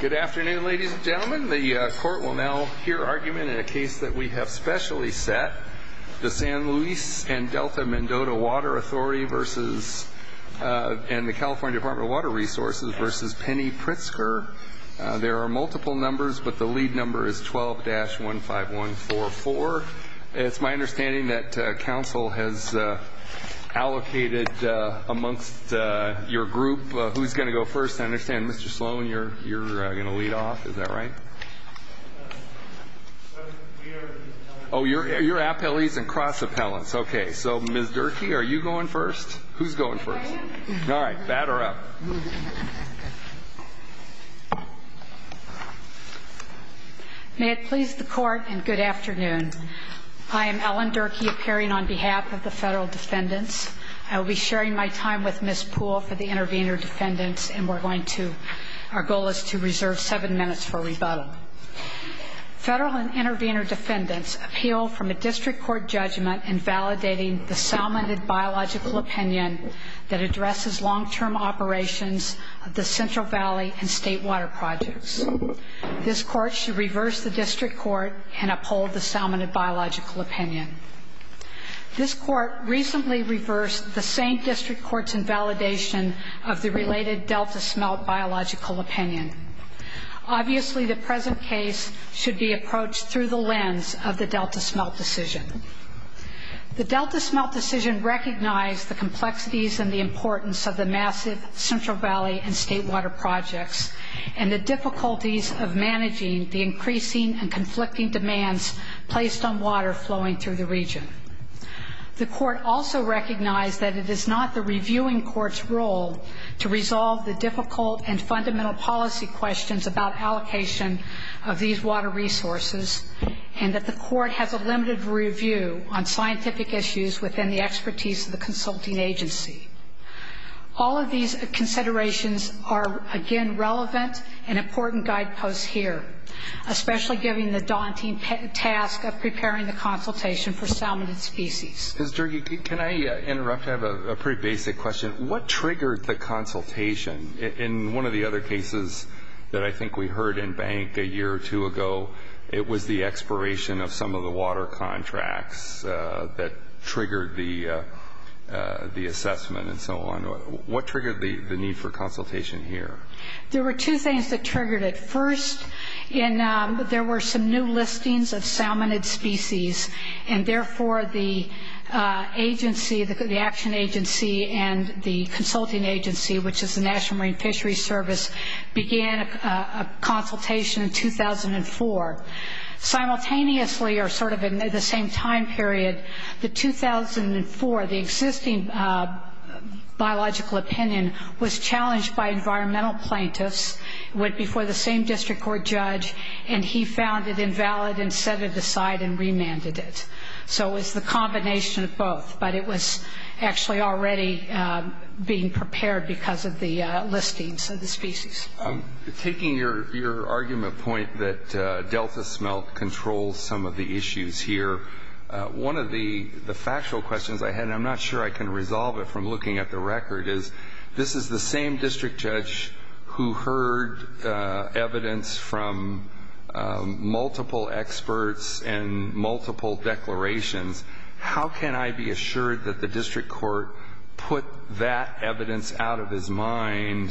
Good afternoon ladies and gentlemen. The court will now hear argument in a case that we have specially set. The San Luis & Delta-Mendota Water Authority and the California Department of Water Resources v. Penny Pritzker. There are multiple numbers but the lead number is 12-15144. It's my understanding that counsel has allocated amongst your group, who's going to go first. I understand Mr. Sloan, you're going to lead off, is that right? Oh, you're appellees and cross-appellants. Okay, so Ms. Durkee, are you going first? Who's going first? All right, batter up. May it please the court and good afternoon. I am Ellen Durkee appearing on behalf of the federal defendants. I will be sharing my time with Ms. Poole for the case and we're going to, our goal is to reserve seven minutes for rebuttal. Federal and intervener defendants appeal from a district court judgment in validating the salmon and biological opinion that addresses long-term operations of the Central Valley and state water projects. This court should reverse the district court and uphold the salmon and biological opinion. This court recently reversed the same district court's invalidation of the related Delta smelt biological opinion. Obviously, the present case should be approached through the lens of the Delta smelt decision. The Delta smelt decision recognized the complexities and the importance of the massive Central Valley and state water projects and the difficulties of managing the increasing and conflicting demands placed on water flowing through the region. The court also recognized that it is not the reviewing court's role to resolve the difficult and fundamental policy questions about allocation of these water resources and that the court has a limited review on scientific issues within the expertise of the consulting agency. All of these considerations are, again, relevant and important guidelines to impose here, especially given the daunting task of preparing the consultation for salmon and species. Mr. Durgie, can I interrupt? I have a pretty basic question. What triggered the consultation? In one of the other cases that I think we heard in Bank a year or two ago, it was the expiration of some of the water contracts that triggered the assessment and so on. What triggered the need for consultation here? There were two things that triggered it. First, there were some new listings of salmonid species and therefore the agency, the action agency and the consulting agency, which is the National Marine Fisheries Service, began a consultation in 2004. Simultaneously, or sort of in the same time period, the 2004, the existing biological opinion, was challenged by environmental plaintiffs, went before the same district court judge, and he found it invalid and set it aside and remanded it. So it was the combination of both, but it was actually already being prepared because of the listings of the species. Taking your argument point that delta smelt controls some of the issues here, one of the factual questions I had, and I'm not sure I can resolve it from looking at the record, is this is the same district judge who heard evidence from multiple experts and multiple declarations. How can I be assured that the district court put that evidence out of his mind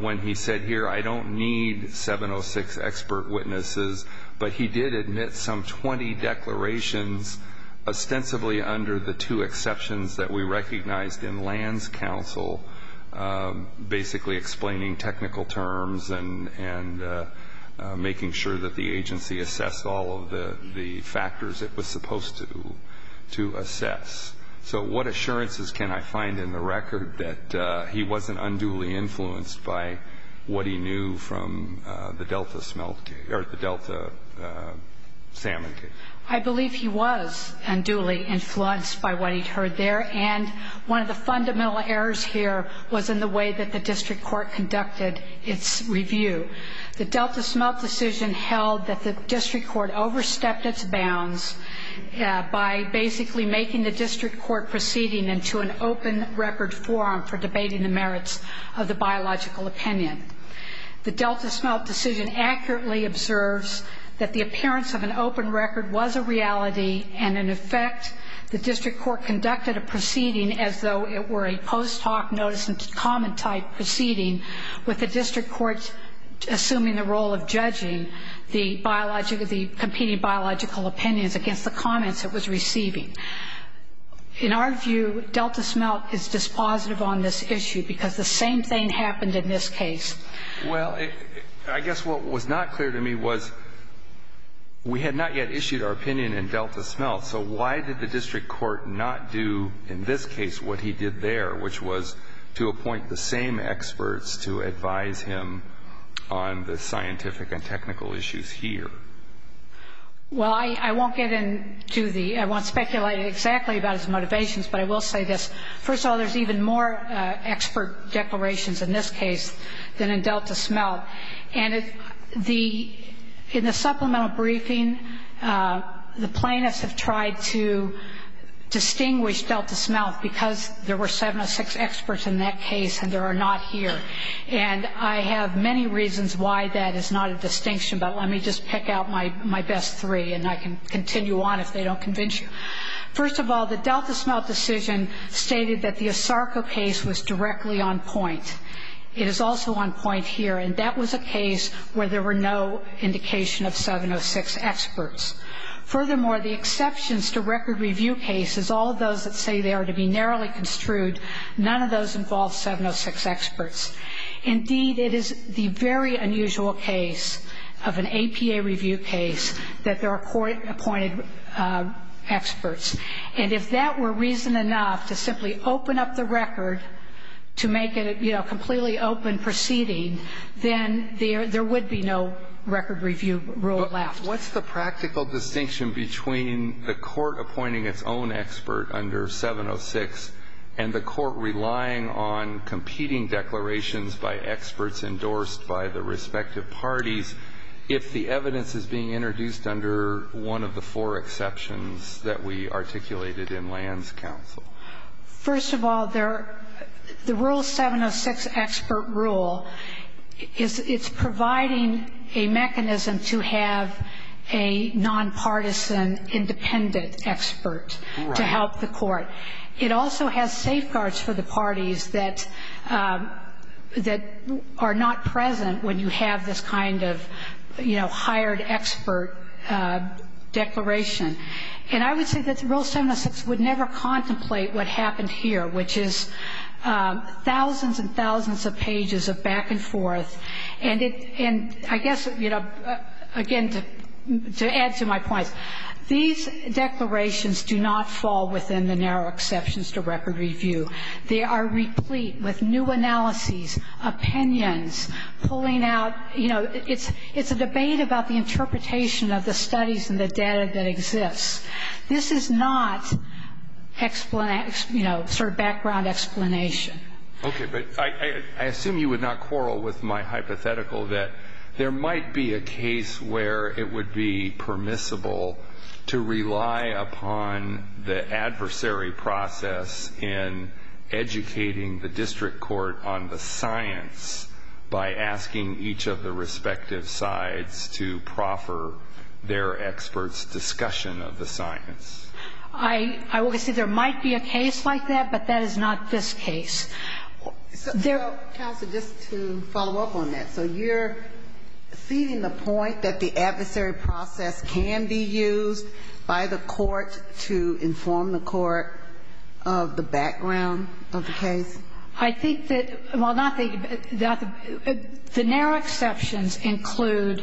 when he said here, I don't need 706 expert witnesses, but he did admit some 20 declarations ostensibly under the two exceptions that we recognized in lands council, basically explaining technical terms and making sure that the agency assessed all of the factors it was supposed to assess? So what assurances can I find in the record that he wasn't unduly influenced by what he knew from the delta salmon case? I believe he was unduly influenced by what he heard there, and one of the fundamental errors here was in the way that the district court conducted its review. The delta smelt decision held that the district court overstepped its bounds by basically making the district court proceeding into an open record forum for debating the merits of the biological opinion. The delta smelt decision accurately observes that the appearance of an open record was a reality, and in effect, the district court conducted a proceeding as though it were a post hoc notice and comment type proceeding, with the district court assuming the role of judging the competing biological opinions against the comments it was receiving. In our view, delta smelt is dispositive on this issue, because the same thing happened in this case. Well, I guess what was not clear to me was we had not yet issued our opinion in delta smelt, so why did the district court not do in this case what he did there, which was to appoint the same experts to advise him on the scientific and technical issues here? Well, I won't get into the, I won't speculate exactly about his motivations, but I will say this. First of all, there's even more expert declarations in this case than in delta smelt. And the, in the supplemental briefing, the plaintiffs have tried to distinguish delta smelt, because there were seven or six experts in that case, and there are not here. And I have many reasons why that is not a distinction, but let me just pick out my best three, and I can continue on if they don't convince you. First of all, the delta smelt decision stated that the ASARCO case was directly on point. It is also on point here, and that was a case where there were no indication of seven or six experts. Furthermore, the exceptions to record review cases, all of those that say they are to be narrowly construed, none of those involve seven or six experts. Indeed, it is the very unusual case of an APA review case that there are court-appointed experts and if that were reason enough to simply open up the record to make it, you know, a completely open proceeding, then there would be no record review rule left. What's the practical distinction between the court appointing its own expert under 706 and the court relying on competing declarations by experts endorsed by the respective parties if the evidence is being introduced under one of the four exceptions that we articulated in Land's counsel? First of all, the rule 706 expert rule, it's providing a mechanism to have a nonpartisan independent expert to help the court. It also has safeguards for the parties that are not present when you have this kind of, you know, hired expert declaration. And I would say that rule 706 would never contemplate what happened here, which is thousands and thousands of pages of back and forth. And I guess, you know, again, to add to my points, these declarations do not fall within the narrow exceptions to record review. They are replete with new analyses, opinions, pulling out, you know, it's a debate about the interpretation of the studies and the data that exists. This is not, you know, sort of background explanation. Okay. But I assume you would not quarrel with my hypothetical that there might be a case where it would be permissible to rely upon the adversary process in educating the district court on the science by asking each of the respective sides to proffer their experts' discussion of the science. I would say there might be a case like that, but that is not this case. Counsel, just to follow up on that. So you're ceding the point that the adversary process can be used by the court to inform the court of the background of the case? I think that, well, not the, the narrow exceptions include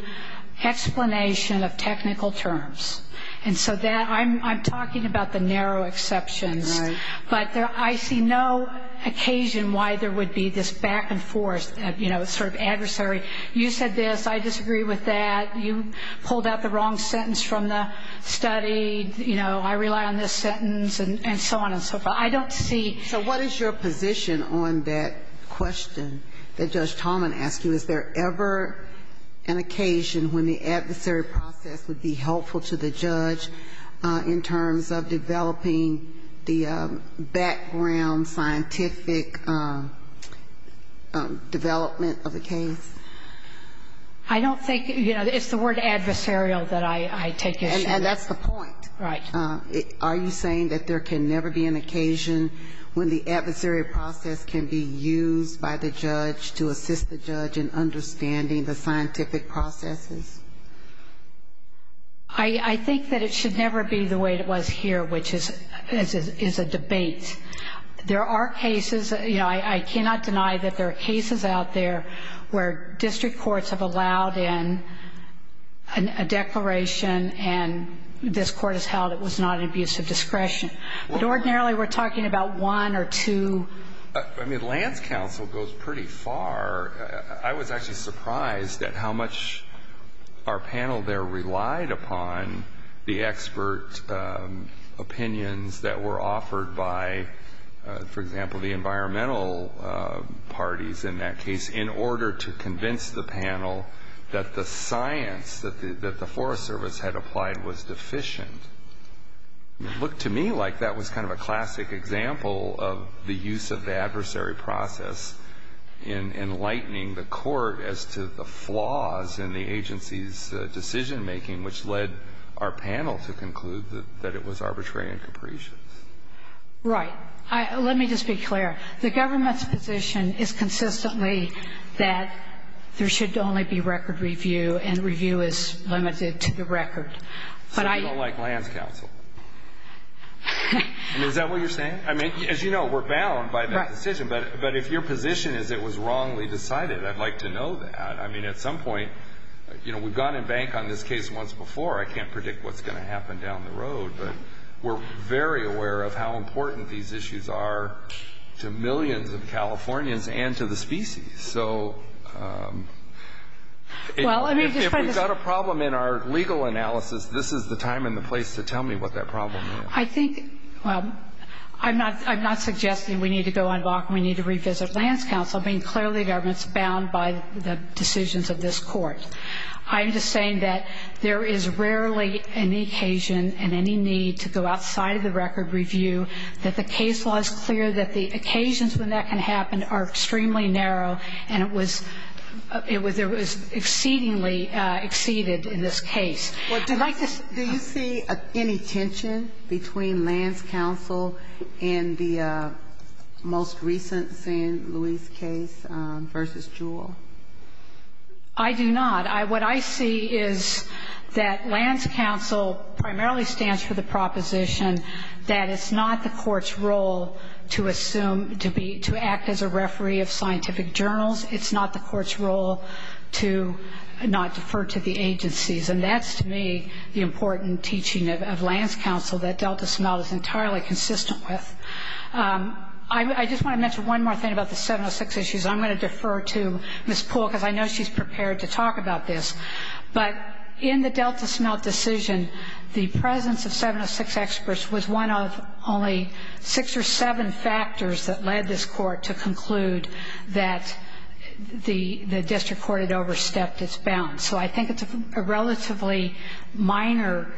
explanation of technical terms. And so that, I'm talking about the narrow exceptions, but I see no occasion why there would be this back and forth, you know, sort of adversary, you said this, I disagree with that, you pulled out the wrong sentence from the study, you know, I rely on this sentence and so on and so forth. I don't see So what is your position on that question that Judge Tallman asked you? Is there ever an occasion when the adversary process would be helpful to the judge in terms of developing the background scientific development of the case? I don't think, you know, it's the word adversarial that I take issue with. And that's the point. Right. Are you saying that there can never be an occasion when the adversary process can be used by the judge to assist the judge in understanding the scientific processes? I think that it should never be the way it was here, which is a debate. There are cases, you know, I cannot deny that there are cases out there where district courts have allowed in a declaration and this Court has held it was not an abuse of discretion. But ordinarily we're talking about one or two. I mean, Lance counsel goes pretty far. I was actually surprised at how much our panel there relied upon the expert opinions that were offered by, for example, the environmental parties in that case in order to convince the panel that the science that the Forest Service had applied was deficient. It looked to me like that was kind of a classic example of the use of the adversary process in enlightening the Court as to the flaws in the agency's decision-making, which led our panel to conclude that it was arbitrary and capricious. Right. Let me just be clear. The government's position is consistently that there should only be record review and review is limited to the record. But I So you don't like Lance counsel? I mean, is that what you're saying? I mean, as you know, we're bound by that decision. Right. But if your position is it was wrongly decided, I'd like to know that. I mean, at some point, you know, we've gone in bank on this case once before. I can't predict what's going to happen down the road. But we're very aware of how important these issues are to millions of Californians and to the species. So if we've got a problem in our legal analysis, this is the time and the place to tell me what that problem is. I think I'm not suggesting we need to go on a walk and we need to revisit Lance counsel. I mean, clearly the government's bound by the decisions of this Court. I'm just saying that there is rarely any occasion and any need to go outside of the record review, that the case law is clear, that the occasions when that can happen are extremely narrow, and it was exceedingly exceeded in this case. Do you see any tension between Lance counsel and the most recent St. Louis case versus Jewell? I do not. What I see is that Lance counsel primarily stands for the proposition that it's not the Court's role to assume, to act as a referee of scientific journals. It's not the Court's role to not defer to the agencies. And that's, to me, the important teaching of Lance counsel that Delta Smelt is entirely consistent with. I just want to mention one more thing about the 706 issues. I'm going to defer to Ms. Poole because I know she's prepared to talk about this. But in the Delta Smelt decision, the presence of 706 experts was one of only six or seven factors that led this Court to conclude that the district court had overstepped its bounds. So I think it's a relatively minor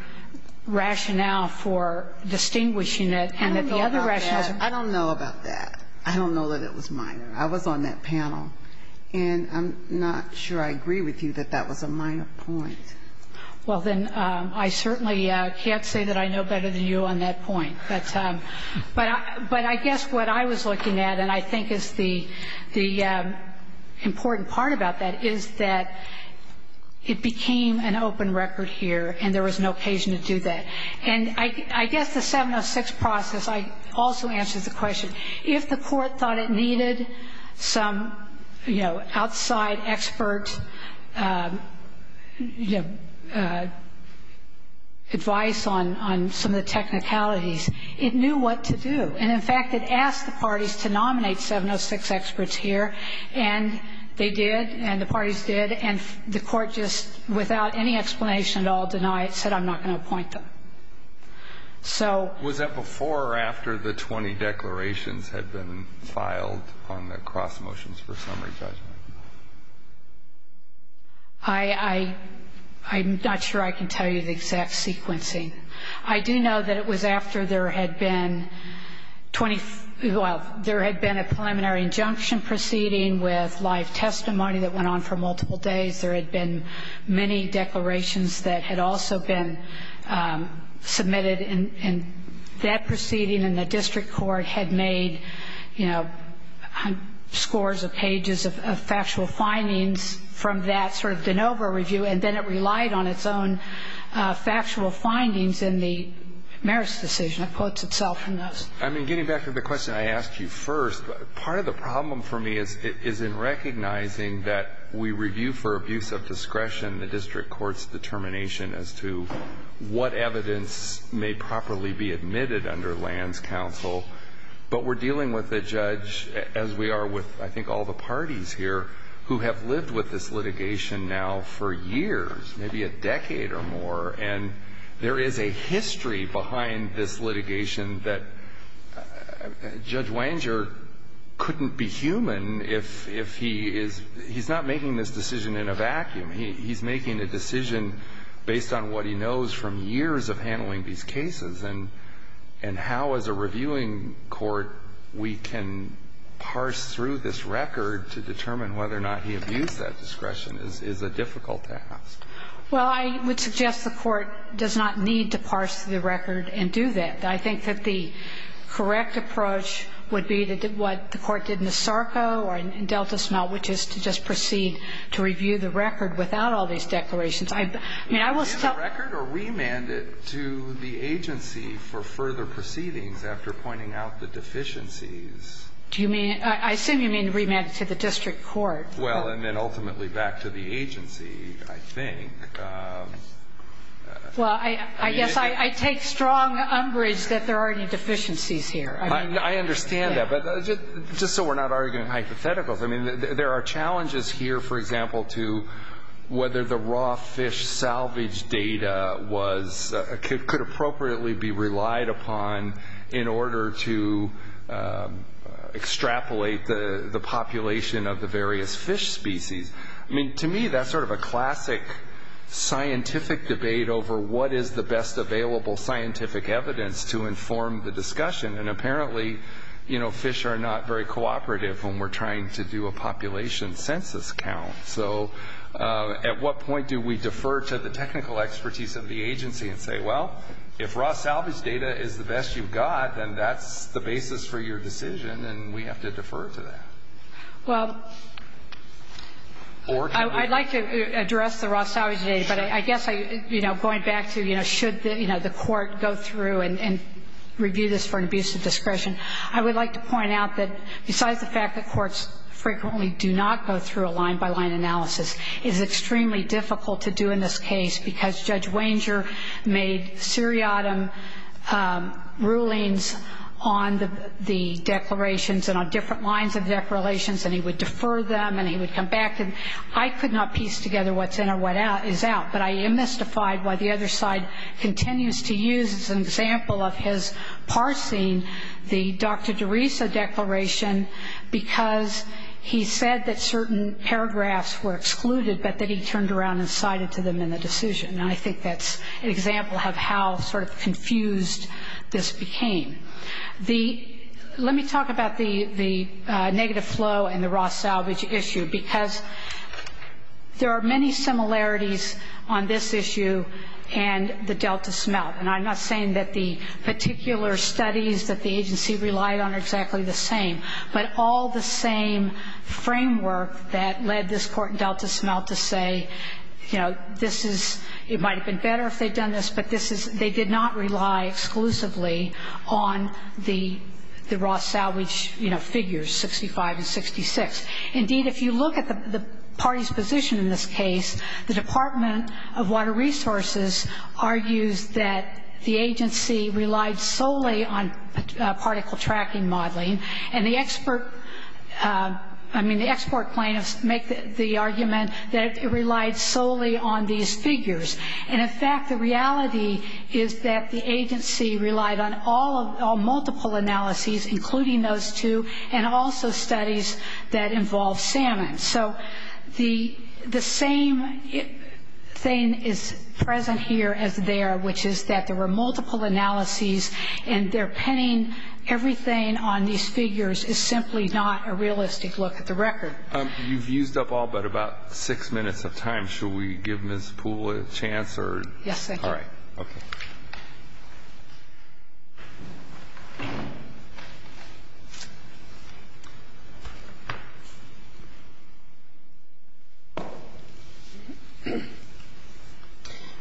rationale for distinguishing it and that the other rationales are. I don't know about that. I don't know that it was minor. I was on that panel. And I'm not sure I agree with you that that was a minor point. Well, then, I certainly can't say that I know better than you on that point. But I guess what I was looking at, and I think is the important part about that, is that it became an open record here, and there was no occasion to do that. And I think it also answers the question, if the Court thought it needed some, you know, outside expert advice on some of the technicalities, it knew what to do. And, in fact, it asked the parties to nominate 706 experts here, and they did, and the parties did, and the Court just, without any explanation at all denied it, said, I'm not going to appoint them. Was that before or after the 20 declarations had been filed on the cross motions for summary judgment? I'm not sure I can tell you the exact sequencing. I do know that it was after there had been a preliminary injunction proceeding with live testimony that went on for multiple days. There had been many declarations that had also been submitted, and that proceeding in the district court had made, you know, scores of pages of factual findings from that sort of de novo review. And then it relied on its own factual findings in the merits decision. It quotes itself from those. I mean, getting back to the question I asked you first, part of the problem for me is in recognizing that we review for abuse of discretion the district court's determination as to what evidence may properly be admitted under lands counsel, but we're dealing with a judge, as we are with I think all the parties here, who have lived with this litigation now for years, maybe a decade or more, and there is a history behind this litigation that Judge Wanger couldn't be human if he is he's not making this decision in a vacuum. He's making a decision based on what he knows from years of handling these cases. And how, as a reviewing court, we can parse through this record to determine whether or not he abused that discretion is a difficult task. Well, I would suggest the Court does not need to parse through the record and do that. I think that the correct approach would be what the Court did in the SARCO or in Delta Small, which is to just proceed to review the record without all these declarations. I mean, I will still ---- Do you review the record or remand it to the agency for further proceedings after pointing out the deficiencies? Do you mean to ---- I assume you mean to remand it to the district court. Well, and then ultimately back to the agency, I think. Well, I guess I take strong umbrage that there are any deficiencies here. I understand that, but just so we're not arguing hypotheticals, I mean, there are challenges here, for example, to whether the raw fish salvage data could appropriately be relied upon in order to extrapolate the population of the various fish species. I mean, to me, that's sort of a classic scientific debate over what is the best available scientific evidence to inform the discussion. And apparently, you know, fish are not very cooperative when we're trying to do a population census count. So at what point do we defer to the technical expertise of the agency and say, well, if raw salvage data is the best you've got, then that's the basis for your decision, and we have to defer to that. Well, I'd like to address the raw salvage data, but I guess going back to should the court go through and review this for an abuse of discretion, I would like to point out that besides the fact that courts frequently do not go through a line-by-line analysis, it is extremely difficult to do in this case because Judge Wanger made seriatim rulings on the declarations and on different lines of declarations, and he would defer them, and he would come back. And I could not piece together what's in or what is out, but I am mystified why the other side continues to use as an example of his parsing the Dr. DeRiso declaration because he said that certain paragraphs were excluded, but that he turned around and cited to them in the decision. And I think that's an example of how sort of confused this became. Let me talk about the negative flow and the raw salvage issue because there are many similarities on this issue and the Delta smelt. And I'm not saying that the particular studies that the agency relied on are exactly the same, but all the same framework that led this court in Delta smelt to say, you know, this is, it might have been better if they'd done this, but this is, they did not rely exclusively on the raw salvage, you know, figures, 65 and 66. Indeed, if you look at the party's position in this case, the Department of Water Resources argues that the agency relied solely on particle tracking modeling, and the expert, I mean, the export plaintiffs make the argument that it relied solely on these figures. And, in fact, the reality is that the agency relied on all multiple analyses, including those two, and also studies that involved salmon. So the same thing is present here as there, which is that there were multiple analyses and their pinning everything on these figures is simply not a realistic look at the record. You've used up all but about six minutes of time. Should we give Ms. Poole a chance? Yes, thank you. All right. Okay.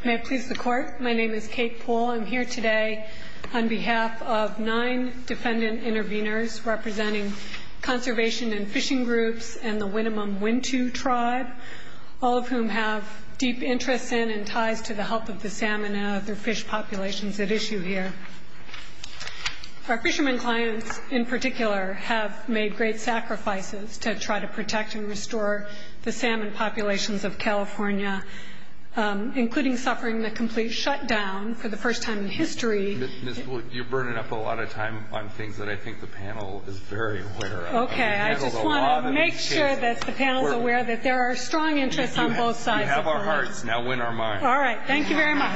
May it please the Court? My name is Kate Poole. I'm here today on behalf of nine defendant intervenors representing conservation and fishing groups and the Winnemem Wintu tribe, all of whom have deep interests in and ties to the health of the salmon and other fish populations at issue here. Our fishermen clients, in particular, have made great sacrifices to try to protect and restore the salmon populations of California, including suffering the complete shutdown for the first time in history. Ms. Poole, you're burning up a lot of time on things that I think the panel is very aware of. Okay. I just want to make sure that the panel is aware that there are strong interests on both sides of the line. You have our hearts. Now win our minds. All right. Thank you very much.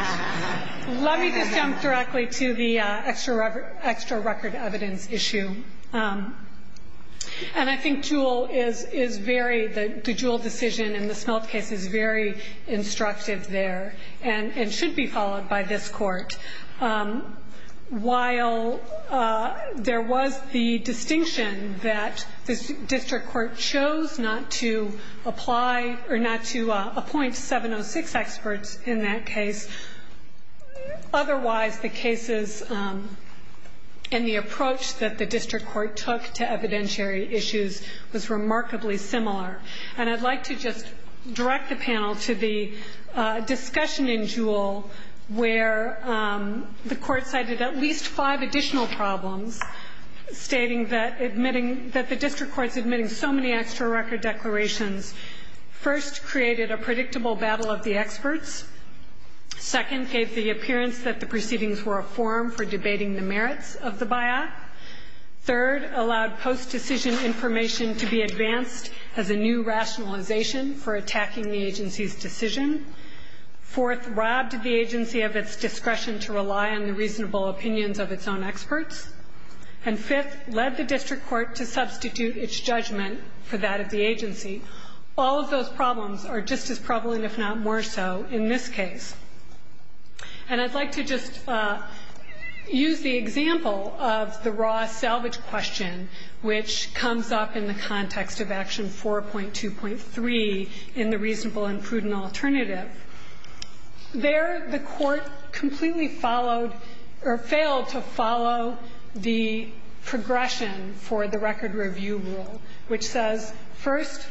Let me just jump directly to the extra record evidence issue. And I think Jewell is very, the Jewell decision in the smelt case is very instructive there and should be followed by this Court. While there was the distinction that the district court chose not to apply or not to appoint 706 experts in that case, otherwise the cases and the approach that the district court took to evidentiary issues was remarkably similar. And I'd like to just direct the panel to the discussion in Jewell where the court cited at least five additional problems stating that admitting, that the district court's admitting so many extra record declarations first created a predictable battle of the experts. Second, gave the appearance that the proceedings were a forum for debating the merits of the by-act. Third, allowed post-decision information to be advanced as a new rationalization for attacking the agency's decision. Fourth, robbed the agency of its discretion to rely on the reasonable opinions of its own experts. And fifth, led the district court to substitute its judgment for that of the agency. All of those problems are just as prevalent, if not more so, in this case. And I'd like to just use the example of the Ross salvage question, which comes up in the context of Action 4.2.3 in the reasonable and prudent alternative. There the court completely followed or failed to follow the progression for the record review rule, which says, first,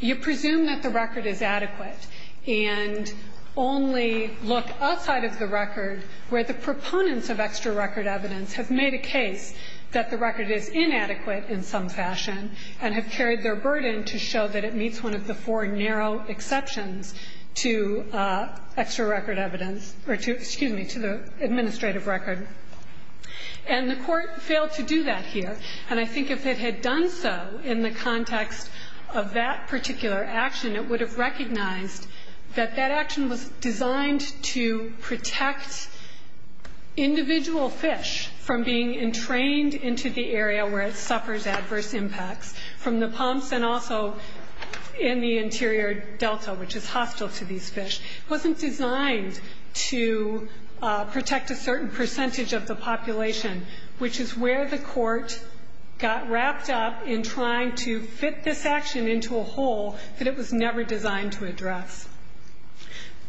you presume that the record is adequate and only look outside of the record where the proponents of extra record evidence have made a case that the record is inadequate in some fashion and have carried their burden to show that it meets one of the four narrow exceptions to extra record evidence or to, excuse me, to the administrative record. And the court failed to do that here. And I think if it had done so in the context of that particular action, it would have recognized that that action was designed to protect individual fish from being entrained into the area where it suffers adverse impacts from the pumps and also in the interior delta, which is hostile to these fish. It wasn't designed to protect a certain percentage of the population, which is where the court got wrapped up in trying to fit this action into a hole that it was never designed to address.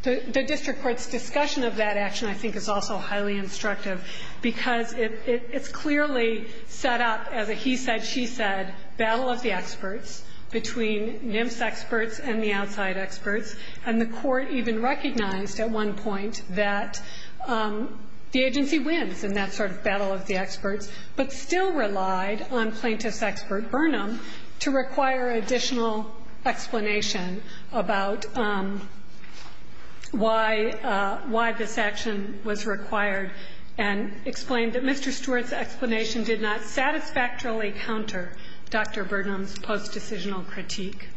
The district court's discussion of that action, I think, is also highly instructive because it's clearly set up as a he said, she said battle of the experts between NIMS experts and the outside experts, and the court even recognized at one point that the agency wins in that sort of battle of the experts, but still relied on plaintiff's expert Burnham to require additional explanation about why this action was required and explained that Mr. Stewart's explanation did not satisfactorily counter Dr. Burnham's post-decisional critique.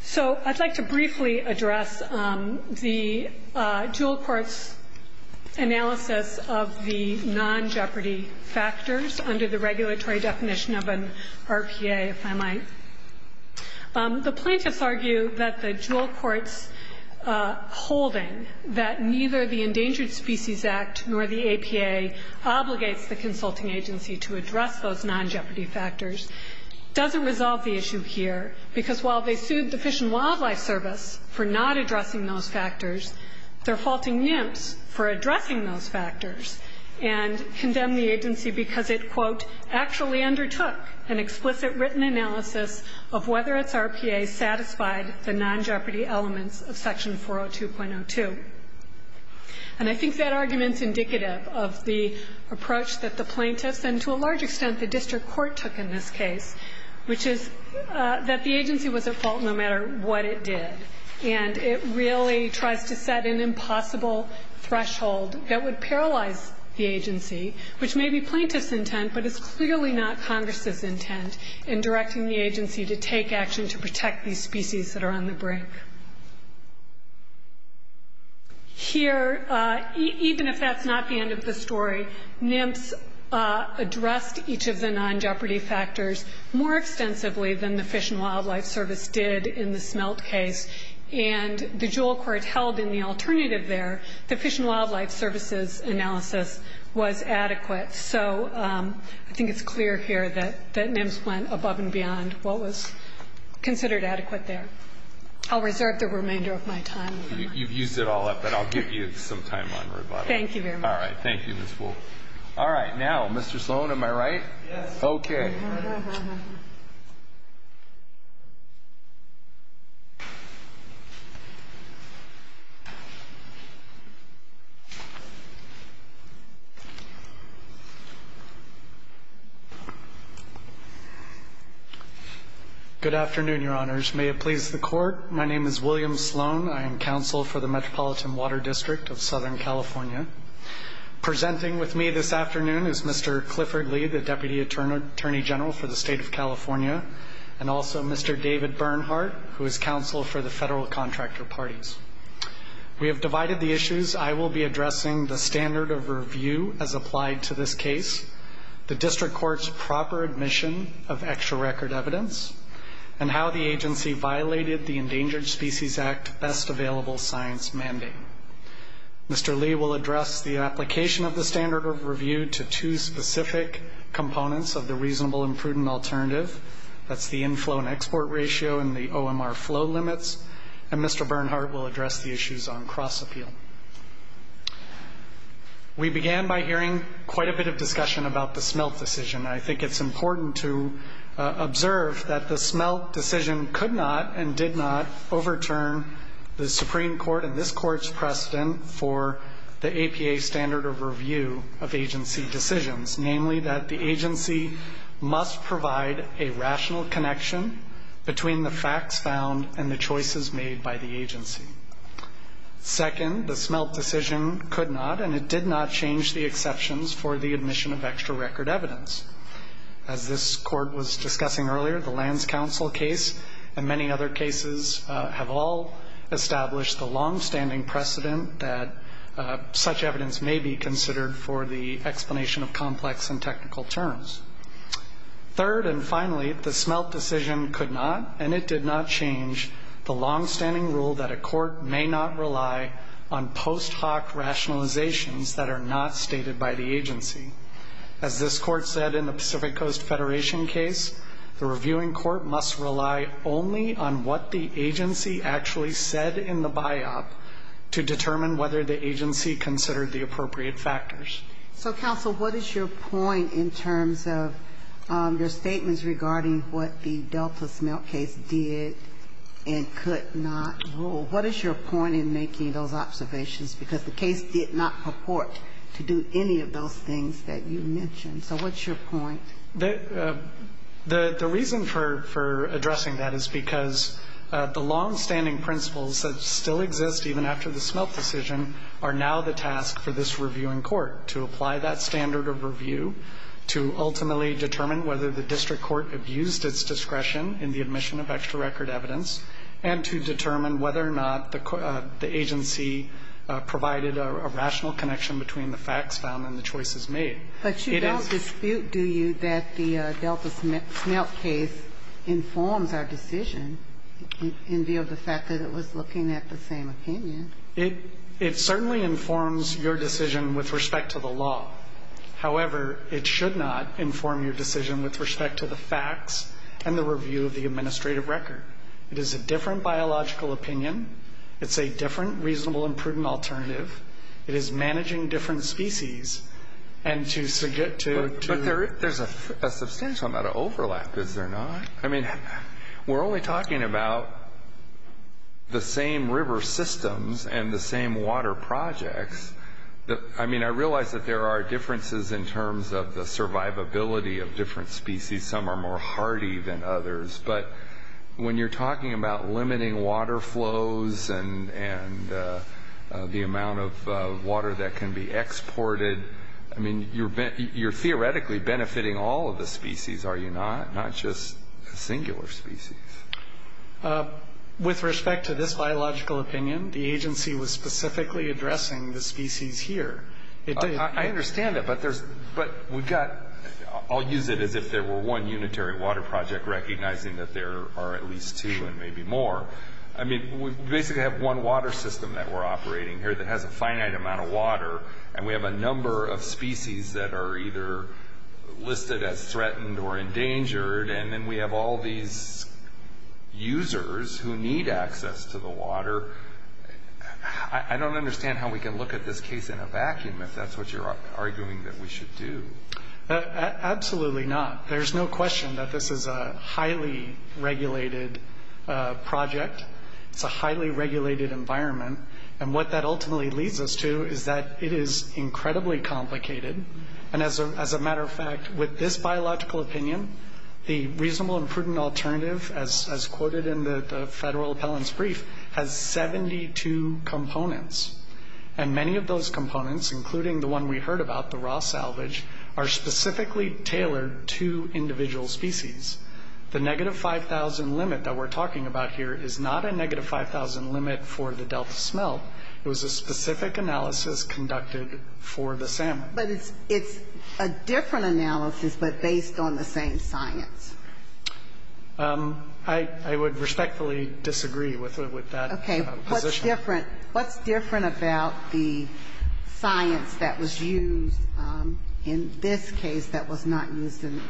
So I'd like to briefly address the dual court's analysis of the non-Jeopardy factors under the regulatory definition of an RPA, if I might. The plaintiffs argue that the dual court's holding that neither the Endangered Species Act nor the APA obligates the consulting agency to address those non-Jeopardy factors doesn't resolve the issue here because while they sued the Fish and Wildlife Service for not addressing those factors, they're faulting NIMS for addressing those factors and condemn the agency because it, quote, actually undertook an explicit written analysis of whether its RPA satisfied the non-Jeopardy elements of section 402.02. And I think that argument's indicative of the approach that the plaintiffs and to a large extent the district court took in this case, which is that the agency was at fault no matter what it did. And it really tries to set an impossible threshold that would paralyze the agency, which may be plaintiffs' intent but is clearly not Congress' intent in directing the agency to take action to protect these species that are on the brink. Here, even if that's not the end of the story, NIMS addressed each of the non-Jeopardy factors more extensively than the Fish and Wildlife Service did in the smelt case. And the Juul court held in the alternative there the Fish and Wildlife Service's analysis was adequate. So I think it's clear here that NIMS went above and beyond what was considered adequate there. I'll reserve the remainder of my time. You've used it all up, and I'll give you some time on rebuttal. Thank you very much. All right. Thank you, Ms. Wolff. All right. Now, Mr. Sloan, am I right? Yes. Okay. Good afternoon, Your Honors. May it please the Court, my name is William Sloan. I am counsel for the Metropolitan Water District of Southern California. Presenting with me this afternoon is Mr. Clifford Lee, the Deputy Attorney General for the State of California, and also Mr. David Bernhardt, who is counsel for the federal contractor parties. We have divided the issues. I will be addressing the standard of review as applied to this case, the district court's proper admission of extra record evidence, and how the agency violated the Endangered Species Act Best Available Science Mandate. Mr. Lee will address the application of the standard of review to two specific components of the reasonable and prudent alternative, that's the inflow and export ratio and the OMR flow limits, and Mr. Bernhardt will address the issues on cross-appeal. We began by hearing quite a bit of discussion about the Smelt decision. I think it's important to observe that the Smelt decision could not and did not overturn the Supreme Court and this Court's precedent for the APA standard of review of agency decisions, namely that the agency must provide a rational connection between the facts found and the choices made by the agency. Second, the Smelt decision could not and it did not change the exceptions for the admission of extra record evidence. As this Court was discussing earlier, the Lands Council case and many other cases have all established the longstanding precedent that such evidence may be considered for the explanation of complex and technical terms. Third and finally, the Smelt decision could not and it did not change the longstanding rule that a court may not rely on post hoc rationalizations that are not stated by the agency. As this Court said in the Pacific Coast Federation case, the reviewing court must rely only on what the agency actually said in the biop to determine whether the agency considered the appropriate factors. So, Counsel, what is your point in terms of your statements regarding what the Delta Smelt case did and could not rule? What is your point in making those observations? Because the case did not purport to do any of those things that you mentioned. So what's your point? The reason for addressing that is because the longstanding principles that still exist even after the Smelt decision are now the task for this reviewing court to apply that standard of review to ultimately determine whether the district court abused its discretion in the admission of extra record evidence and to determine whether or not the agency provided a rational connection between the facts found and the choices made. But you don't dispute, do you, that the Delta Smelt case informs our decision in view of the fact that it was looking at the same opinion? It certainly informs your decision with respect to the law. However, it should not inform your decision with respect to the facts and the review of the administrative record. It is a different biological opinion. It's a different reasonable and prudent alternative. It is managing different species. But there's a substantial amount of overlap, is there not? We're only talking about the same river systems and the same water projects. I realize that there are differences in terms of the survivability of different species. Some are more hardy than others. But when you're talking about limiting water flows and the amount of water that can be exported, I mean, you're theoretically benefiting all of the species, are you not? Not just singular species. With respect to this biological opinion, the agency was specifically addressing the species here. I understand that. I'll use it as if there were one unitary water project, recognizing that there are at least two and maybe more. I mean, we basically have one water system that we're operating here that has a finite amount of water, and we have a number of species that are either listed as threatened or endangered, and then we have all these users who need access to the water. I don't understand how we can look at this case in a vacuum, if that's what you're arguing that we should do. Absolutely not. There's no question that this is a highly regulated project. It's a highly regulated environment. And what that ultimately leads us to is that it is incredibly complicated. And as a matter of fact, with this biological opinion, the reasonable and prudent alternative, as quoted in the federal appellant's brief, has 72 components. And many of those components, including the one we heard about, the raw salvage, are specifically tailored to individual species. The negative 5,000 limit that we're talking about here is not a negative 5,000 limit for the delta smelt. It was a specific analysis conducted for the salmon. But it's a different analysis but based on the same science. I would respectfully disagree with that position. What's different about the science that was used in this case that was not used in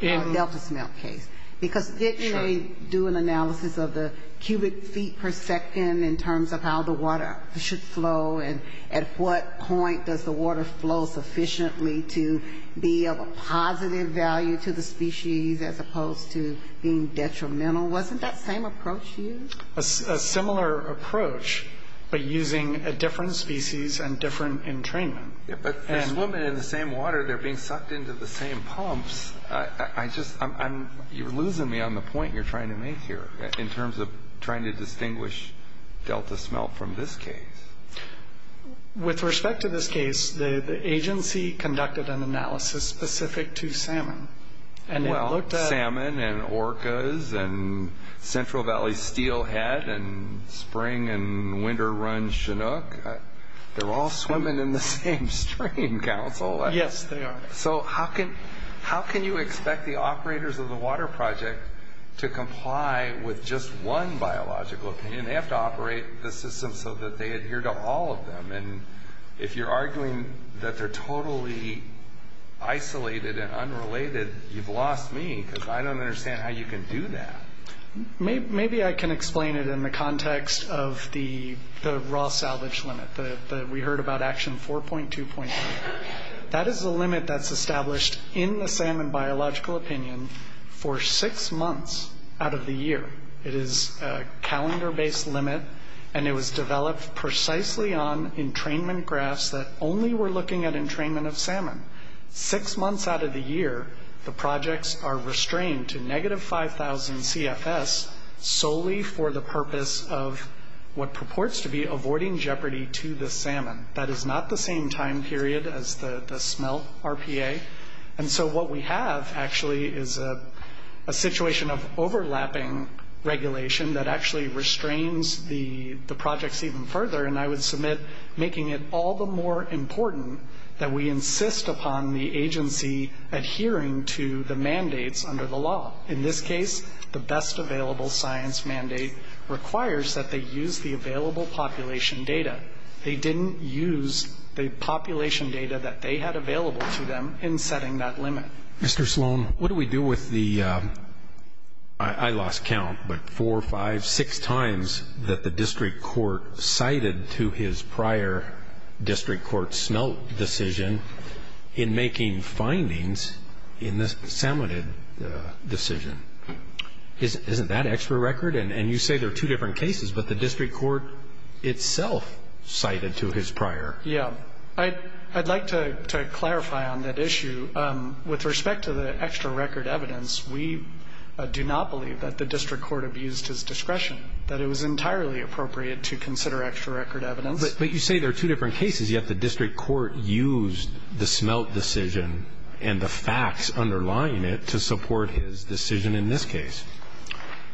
the delta smelt case? Because didn't they do an analysis of the cubic feet per second in terms of how the water should flow and at what point does the water flow sufficiently to be of a positive value to the species as opposed to being detrimental? Wasn't that same approach used? A similar approach but using a different species and different entrainment. But they're swimming in the same water. They're being sucked into the same pumps. You're losing me on the point you're trying to make here in terms of trying to distinguish delta smelt from this case. With respect to this case, the agency conducted an analysis specific to salmon. Well, salmon and orcas and Central Valley steelhead and spring and winter run chinook, they're all swimming in the same stream, counsel. Yes, they are. So how can you expect the operators of the water project to comply with just one biological opinion? They have to operate the system so that they adhere to all of them. If you're arguing that they're totally isolated and unrelated, you've lost me because I don't understand how you can do that. Maybe I can explain it in the context of the raw salvage limit. We heard about action 4.2.3. That is a limit that's established in the salmon biological opinion for six months out of the year. It is a calendar-based limit, and it was developed precisely on entrainment graphs that only were looking at entrainment of salmon. Six months out of the year, the projects are restrained to negative 5,000 CFS solely for the purpose of what purports to be avoiding jeopardy to the salmon. That is not the same time period as the smelt RPA. And so what we have actually is a situation of overlapping regulation that actually restrains the projects even further, and I would submit making it all the more important that we insist upon the agency adhering to the mandates under the law. In this case, the best available science mandate requires that they use the available population data. They didn't use the population data that they had available to them in setting that limit. Mr. Sloan, what do we do with the, I lost count, but four or five, six times that the district court cited to his prior district court smelt decision in making findings in the salmonid decision? Isn't that extra record? And you say there are two different cases, but the district court itself cited to his prior. Yeah. I'd like to clarify on that issue. With respect to the extra record evidence, we do not believe that the district court abused his discretion, that it was entirely appropriate to consider extra record evidence. But you say there are two different cases, yet the district court used the smelt decision and the facts underlying it to support his decision in this case.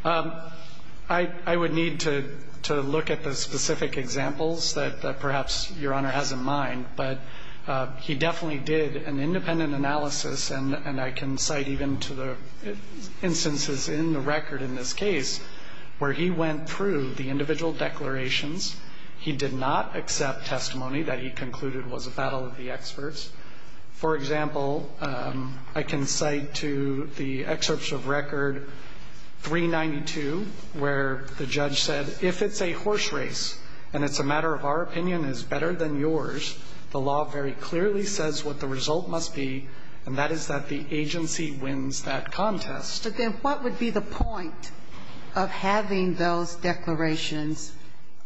I would need to look at the specific examples that perhaps Your Honor has in mind, but he definitely did an independent analysis, and I can cite even to the instances in the record in this case where he went through the individual declarations. He did not accept testimony that he concluded was a battle of the experts. For example, I can cite to the excerpts of record 392 where the judge said, if it's a horse race and it's a matter of our opinion is better than yours, the law very clearly says what the result must be, and that is that the agency wins that contest. But then what would be the point of having those declarations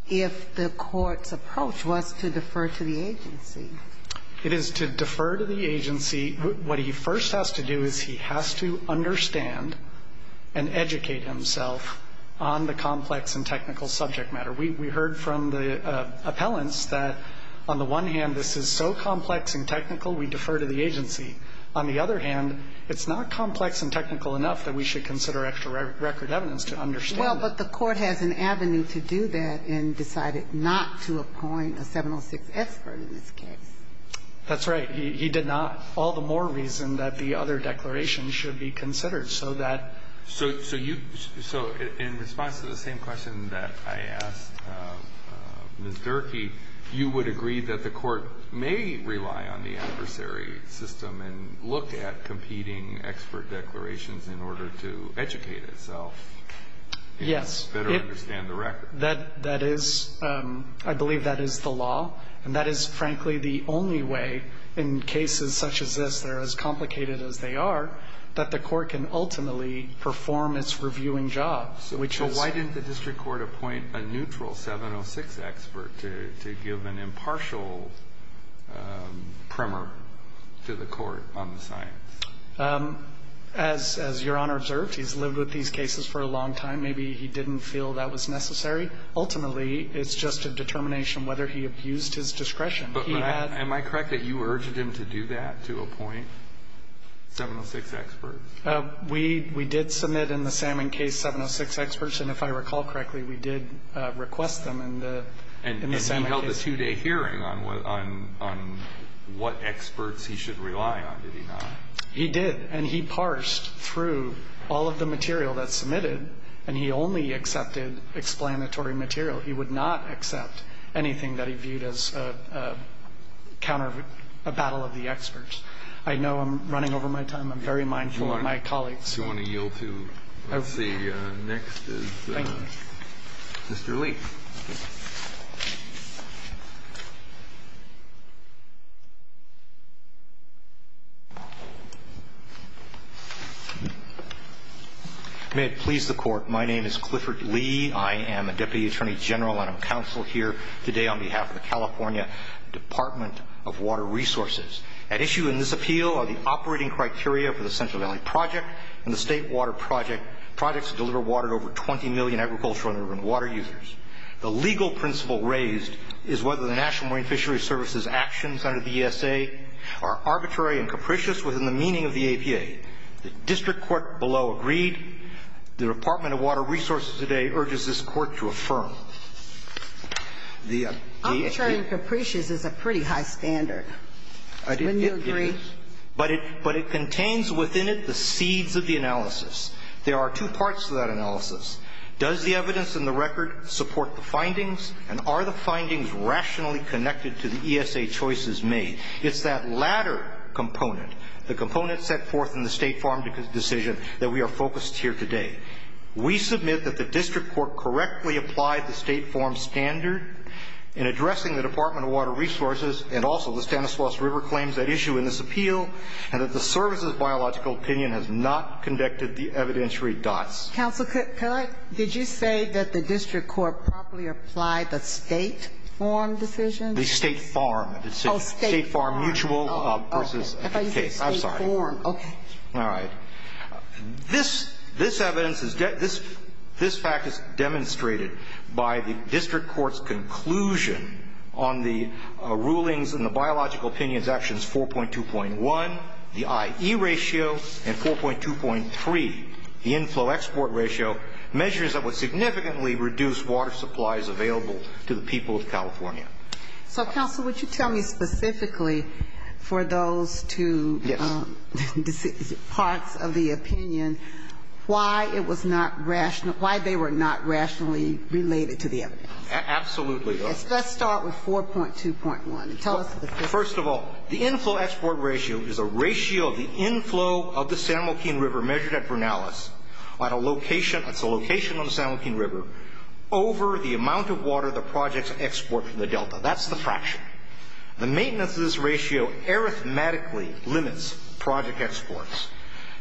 if the court's approach was to defer to the agency? It is to defer to the agency. What he first has to do is he has to understand and educate himself on the complex and technical subject matter. We heard from the appellants that on the one hand this is so complex and technical we defer to the agency. On the other hand, it's not complex and technical enough that we should consider extra record evidence to understand that. Well, but the court has an avenue to do that and decided not to appoint a 706 expert in this case. That's right. He did not. All the more reason that the other declaration should be considered so that. So in response to the same question that I asked Ms. Durkee, you would agree that the court may rely on the adversary system and look at competing expert declarations in order to educate itself. Yes. And better understand the record. That is, I believe that is the law. And that is, frankly, the only way in cases such as this that are as complicated as they are that the court can ultimately perform its reviewing job, which is. So why didn't the district court appoint a neutral 706 expert to give an impartial primer to the court on the science? As Your Honor observed, he's lived with these cases for a long time. Maybe he didn't feel that was necessary. Ultimately, it's just a determination whether he abused his discretion. But am I correct that you urged him to do that, to appoint 706 experts? We did submit in the Salmon case 706 experts. And if I recall correctly, we did request them in the Salmon case. And he held a two-day hearing on what experts he should rely on, did he not? He did. And he parsed through all of the material that's submitted. And he only accepted explanatory material. He would not accept anything that he viewed as a battle of the experts. I know I'm running over my time. I'm very mindful of my colleagues. If you want to yield to the next is Mr. Lee. Thank you. May it please the Court, my name is Clifford Lee. I am a Deputy Attorney General and I'm counsel here today on behalf of the California Department of Water Resources. At issue in this appeal are the operating criteria for the Central Valley Project and the State Water Project, which are projects that deliver water to over 20 million agricultural and urban water users. The legal principle raised is whether the National Marine Fisheries Service's actions under the ESA are arbitrary and capricious within the meaning of the APA. The district court below agreed. The Department of Water Resources today urges this Court to affirm. Arbitrary and capricious is a pretty high standard. Wouldn't you agree? But it contains within it the seeds of the analysis. There are two parts to that analysis. Does the evidence in the record support the findings and are the findings rationally connected to the ESA choices made? It's that latter component, the component set forth in the State Farm decision, that we are focused here today. We submit that the district court correctly applied the State Farm standard in addressing the Department of Water Resources and also the Stanislaus River claims at issue in this appeal and that the service's biological opinion has not conducted the evidentiary dots. Counsel, could I? Did you say that the district court properly applied the State Farm decision? The State Farm. Oh, State Farm. State Farm mutual versus the case. I'm sorry. State Farm. Okay. All right. This evidence, this fact is demonstrated by the district court's conclusion on the rulings and the biological opinion's actions 4.2.1, the IE ratio, and 4.2.3, the inflow-export ratio, measures that would significantly reduce water supplies available to the people of California. So, counsel, would you tell me specifically for those two parts of the opinion why it was not rational, why they were not rationally related to the evidence? Absolutely. Let's start with 4.2.1. First of all, the inflow-export ratio is a ratio of the inflow of the San Joaquin River measured at Bernalas at a location, that's a location on the San Joaquin River, over the amount of water the projects export from the Delta. That's the fraction. The maintenance of this ratio arithmetically limits project exports.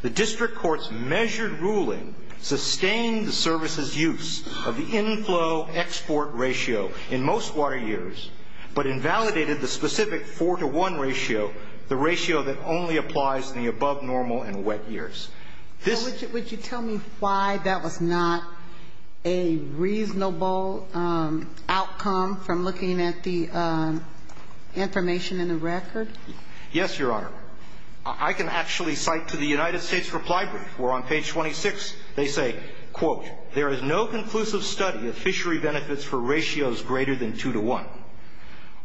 The district court's measured ruling sustained the service's use of the inflow-export ratio in most water years, but invalidated the specific 4.2.1 ratio, the ratio that only applies in the above-normal and wet years. Would you tell me why that was not a reasonable outcome from looking at the information in the record? Yes, Your Honor. I can actually cite to the United States Republic where on page 26 they say, quote, there is no conclusive study of fishery benefits for ratios greater than 2 to 1.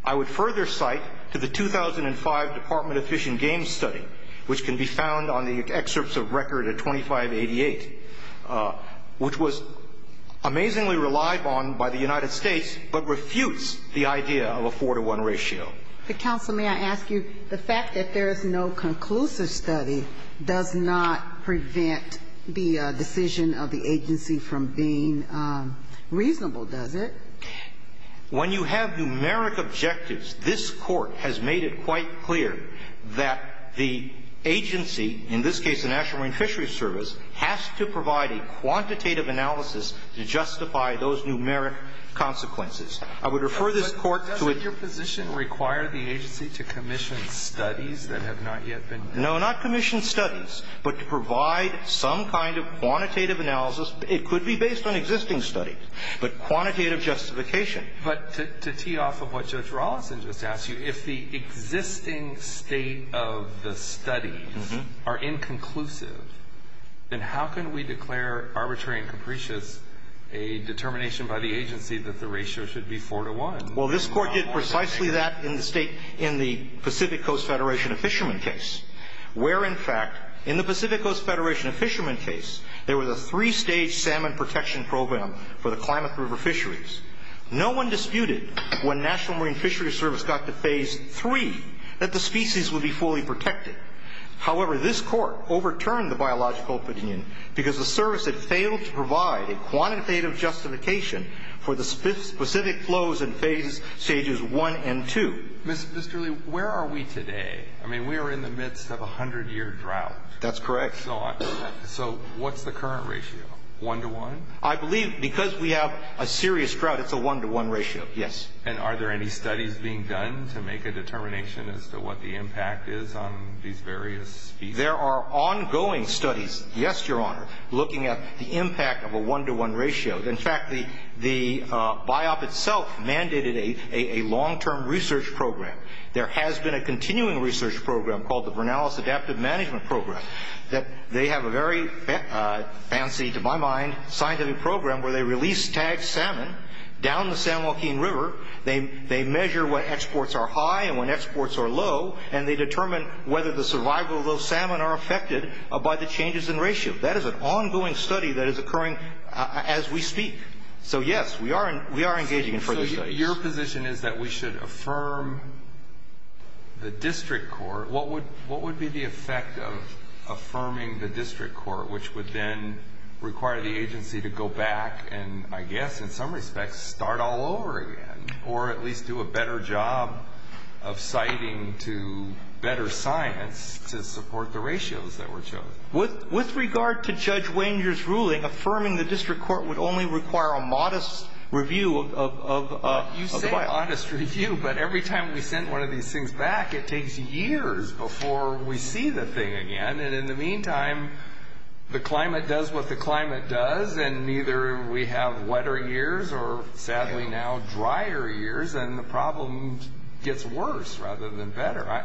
I would further cite to the 2005 Department of Fish and Game study, which can be found on the excerpts of record at 2588, which was amazingly relied on by the United States, but refutes the idea of a 4 to 1 ratio. But, counsel, may I ask you, the fact that there is no conclusive study does not prevent the decision of the agency from being reasonable, does it? When you have numeric objectives, this Court has made it quite clear that the agency, in this case the National Marine Fishery Service, has to provide a quantitative analysis to justify those numeric consequences. I would refer this Court to a ---- But doesn't your position require the agency to commission studies that have not yet been ---- No, not commission studies, but to provide some kind of quantitative analysis. It could be based on existing studies, but quantitative justification. But to tee off of what Judge Rolison just asked you, if the existing state of the studies are inconclusive, then how can we declare arbitrary and capricious a determination by the agency that the ratio should be 4 to 1? Well, this Court did precisely that in the Pacific Coast Federation of Fishermen case, where, in fact, in the Pacific Coast Federation of Fishermen case, there was a three-stage salmon protection program for the Klamath River fisheries. No one disputed when National Marine Fishery Service got to Phase 3 that the species would be fully protected. However, this Court overturned the biological opinion because the service had failed to comply with Phase 1 and 2. Mr. Lee, where are we today? I mean, we are in the midst of a hundred-year drought. That's correct. So what's the current ratio, 1 to 1? I believe because we have a serious drought, it's a 1 to 1 ratio. Yes. And are there any studies being done to make a determination as to what the impact is on these various species? There are ongoing studies, yes, Your Honor, looking at the impact of a 1 to 1 ratio. In fact, the Biop itself mandated a long-term research program. There has been a continuing research program called the Bernalis Adaptive Management Program. They have a very fancy, to my mind, scientific program where they release tagged salmon down the San Joaquin River. They measure when exports are high and when exports are low, and they determine whether the survival of those salmon are affected by the changes in ratio. That is an ongoing study that is occurring as we speak. So, yes, we are engaging in further studies. So your position is that we should affirm the district court. What would be the effect of affirming the district court, which would then require the agency to go back and, I guess in some respects, start all over again, or at least do a better job of citing to better science to support the ratios that were chosen? With regard to Judge Wenger's ruling, affirming the district court would only require a modest review of the Biop. You say modest review, but every time we send one of these things back, it takes years before we see the thing again. In the meantime, the climate does what the climate does, and neither we have wetter years or, sadly now, drier years, and the problem gets worse rather than better.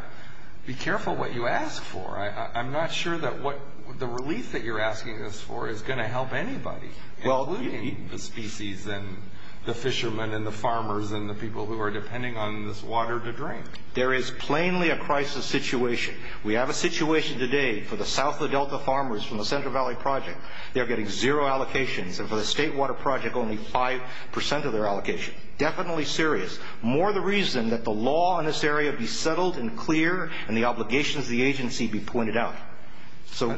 Be careful what you ask for. I'm not sure that the relief that you're asking us for is going to help anybody, including the species and the fishermen and the farmers and the people who are depending on this water to drink. There is plainly a crisis situation. We have a situation today for the south of the Delta farmers from the Central Valley Project. They're getting zero allocations, and for the State Water Project, only 5% of their allocation. Definitely serious. More the reason that the law in this area be settled and clear and the obligations of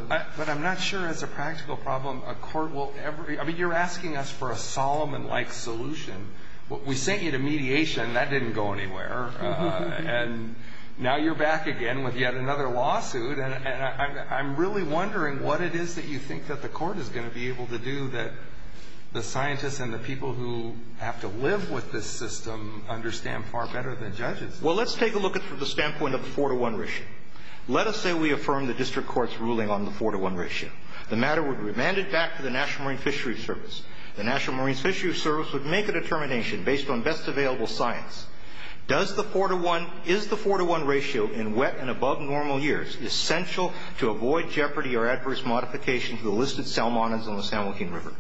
But I'm not sure it's a practical problem. A court will ever be. I mean, you're asking us for a Solomon-like solution. We sent you to mediation. That didn't go anywhere. And now you're back again with yet another lawsuit. And I'm really wondering what it is that you think that the court is going to be able to do that the scientists and the people who have to live with this system understand far better than judges. Well, let's take a look at it from the standpoint of a four-to-one ratio. Let us say we affirm the district court's ruling on the four-to-one ratio. The matter would be remanded back to the National Marine Fisheries Service. The National Marine Fisheries Service would make a determination based on best available science. Does the four-to-one, is the four-to-one ratio in wet and above normal years essential to avoid jeopardy or adverse modification to the listed salmonids on the San Joaquin River?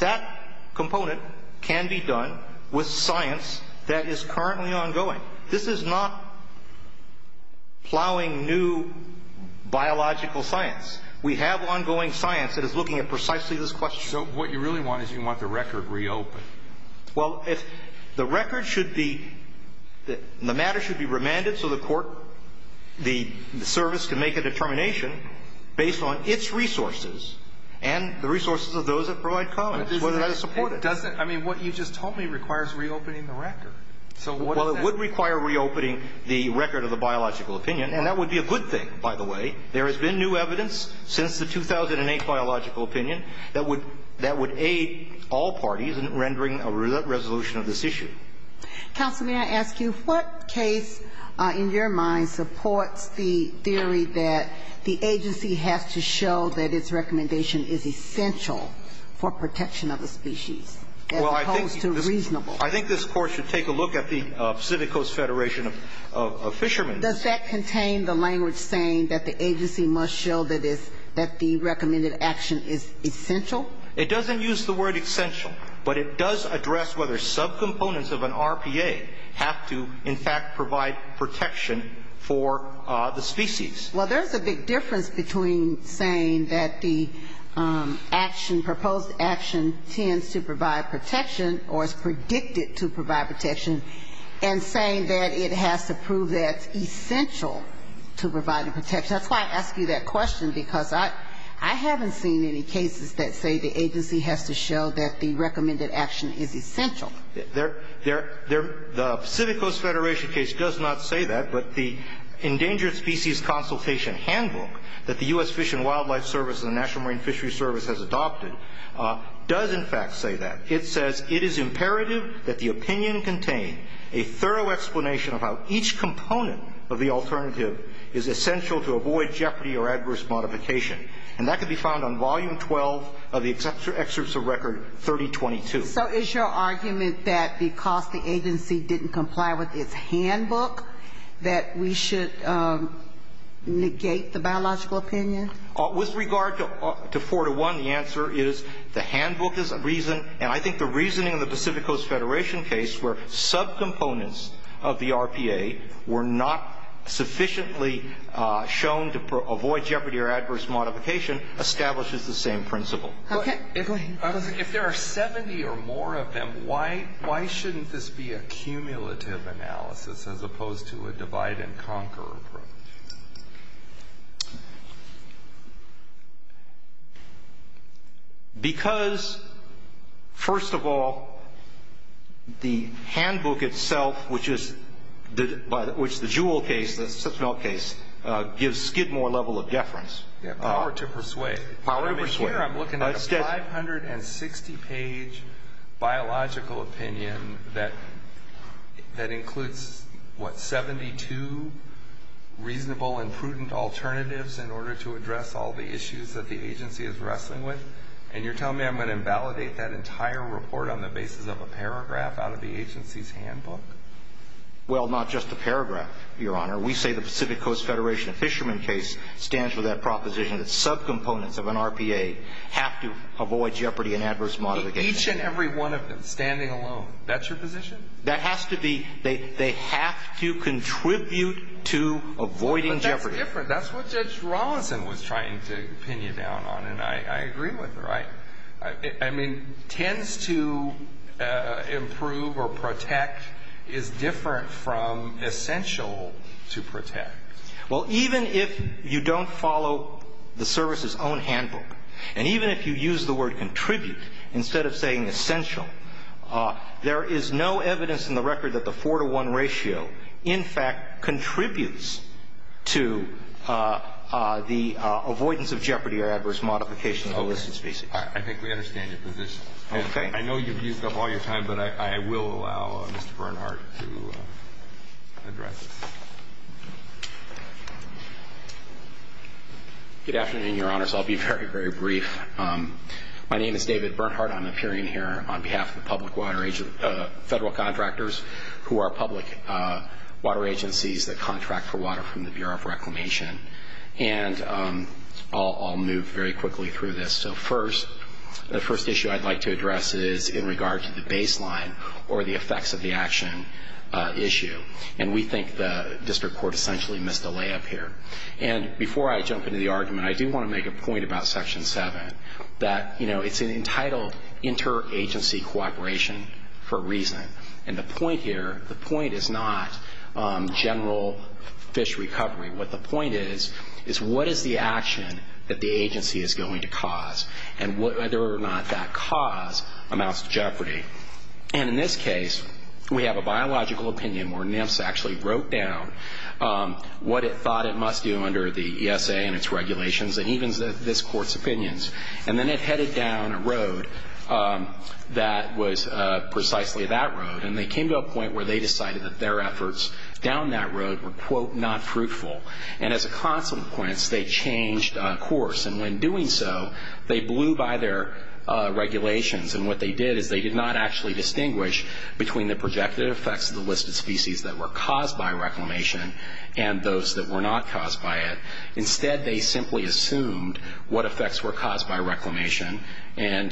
That component can be done with science that is currently ongoing. This is not plowing new biological science. We have ongoing science that is looking at precisely this question. So what you really want is you want the record reopened. Well, the record should be, the matter should be remanded so the court, the service can make a determination based on its resources and the resources of those that provide comments, whether that is supported. It doesn't, I mean, what you just told me requires reopening the record. Well, it would require reopening the record of the biological opinion, and that would be a good thing, by the way. There has been new evidence since the 2008 biological opinion that would aid all parties in rendering a resolution of this issue. Counsel, may I ask you, what case in your mind supports the theory that the agency has to show that its recommendation is essential for protection of the species as opposed to reasonable? I think this Court should take a look at the Pacific Coast Federation of Fishermen. Does that contain the language saying that the agency must show that the recommended action is essential? It doesn't use the word essential, but it does address whether subcomponents of an RPA have to, in fact, provide protection for the species. Well, there's a big difference between saying that the action, proposed action, tends to provide protection, or is predicted to provide protection, and saying that it has to prove that it's essential to provide the protection. That's why I ask you that question, because I haven't seen any cases that say the agency has to show that the recommended action is essential. The Pacific Coast Federation case does not say that, but the Endangered Species Consultation Handbook that the U.S. Fish and Wildlife Service and the National It says it is imperative that the opinion contain a thorough explanation of how each component of the alternative is essential to avoid jeopardy or adverse modification. And that can be found on Volume 12 of the Excerpts of Record 3022. So is your argument that because the agency didn't comply with its handbook that we should negate the biological opinion? With regard to 4-1, the answer is the handbook is a reason, and I think the reasoning of the Pacific Coast Federation case where subcomponents of the RPA were not sufficiently shown to avoid jeopardy or adverse modification establishes the same principle. Okay. If there are 70 or more of them, why shouldn't this be a cumulative analysis as opposed to a divide-and-conquer approach? Because, first of all, the handbook itself, which the Jewell case, the Sipsmell case, gives Skidmore a level of deference. Power to persuade. Power to persuade. But here I'm looking at a 560-page biological opinion that includes, what, 72 reasonable and prudent alternatives in order to address all the issues that the agency is wrestling with, and you're telling me I'm going to invalidate that entire report on the basis of a paragraph out of the agency's handbook? Well, not just a paragraph, Your Honor. We say the Pacific Coast Federation Fisherman case stands for that proposition that subcomponents of an RPA have to avoid jeopardy and adverse modification. Each and every one of them, standing alone. That's your position? That has to be. They have to contribute to avoiding jeopardy. But that's different. That's what Judge Rawlinson was trying to pin you down on, and I agree with her. I mean, tends to improve or protect is different from essential to protect. Well, even if you don't follow the service's own handbook, and even if you use the word contribute instead of saying essential, there is no evidence in the record that the 4-to-1 ratio, in fact, contributes to the avoidance of jeopardy or adverse modification of the listed species. Okay. I think we understand your position. Okay. I know you've used up all your time, but I will allow Mr. Bernhardt to address this. Good afternoon, Your Honors. I'll be very, very brief. My name is David Bernhardt. I'm appearing here on behalf of the federal contractors who are public water agencies that contract for water from the Bureau of Reclamation. And I'll move very quickly through this. So first, the first issue I'd like to address is in regard to the baseline or the effects of the action issue. And we think the district court essentially missed a layup here. And before I jump into the argument, I do want to make a point about Section 7, that, you know, it's entitled interagency cooperation for a reason. And the point here, the point is not general fish recovery. What the point is, is what is the action that the agency is going to cause and whether or not that cause amounts to jeopardy. And in this case, we have a biological opinion where NIPS actually wrote down what it thought it must do under the ESA and its regulations and even this court's opinions. And then it headed down a road that was precisely that road. And they came to a point where they decided that their efforts down that road were, quote, not fruitful. And as a consequence, they changed course. And when doing so, they blew by their regulations. And what they did is they did not actually distinguish between the projected effects of the listed species that were caused by reclamation and those that were not caused by it. Instead, they simply assumed what effects were caused by reclamation and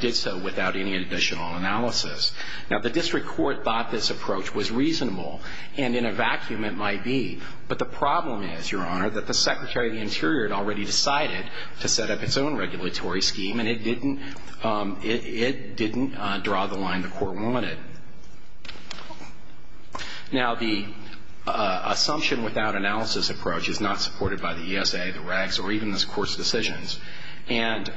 did so without any additional analysis. Now, the district court thought this approach was reasonable. And in a vacuum it might be. But the problem is, Your Honor, that the Secretary of the Interior had already decided to set up its own regulatory scheme and it didn't draw the line the court wanted. Now, the assumption without analysis approach is not supported by the ESA, the regs, or even this court's decisions. And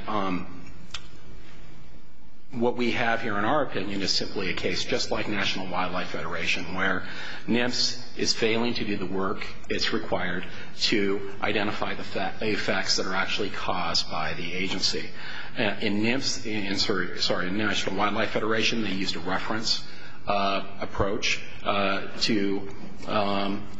what we have here in our opinion is simply a case just like National Wildlife Federation where NIFS is failing to do the work it's required to identify the effects that are actually caused by the agency. In National Wildlife Federation, they used a reference approach to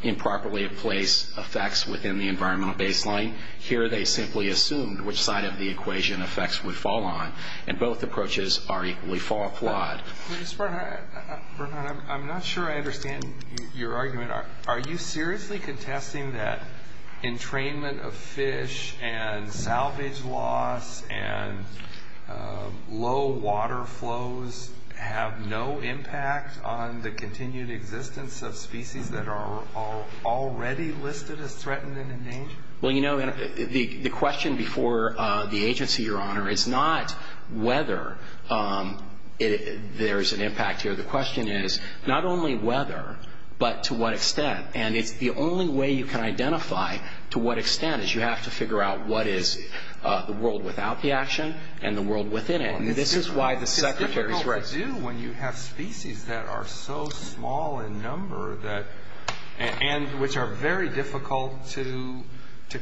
improperly place effects within the environmental baseline. Here they simply assumed which side of the equation effects would fall on. And both approaches are equally flawed. Mr. Bernhardt, I'm not sure I understand your argument. Are you seriously contesting that entrainment of fish and salvage loss and low water flows have no impact on the continued existence of species that are already listed as threatened and in danger? Well, you know, the question before the agency, Your Honor, is not whether there is an impact here. The question is not only whether, but to what extent. And it's the only way you can identify to what extent is you have to figure out what is the world without the action and the world within it. And this is why the Secretary is right. It's difficult to do when you have species that are so small in number and which are very difficult to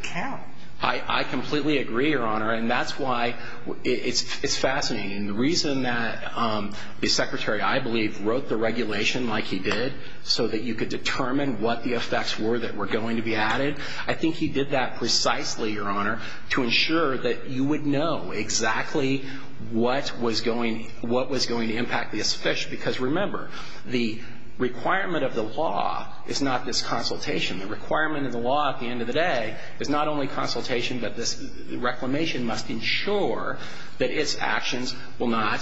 count. I completely agree, Your Honor. And that's why it's fascinating. The reason that the Secretary, I believe, wrote the regulation like he did so that you could determine what the effects were that were going to be added, I think he did that precisely, Your Honor, to ensure that you would know exactly what was going to impact this fish. Because remember, the requirement of the law is not this consultation. The requirement of the law at the end of the day is not only consultation but this reclamation must ensure that its actions will not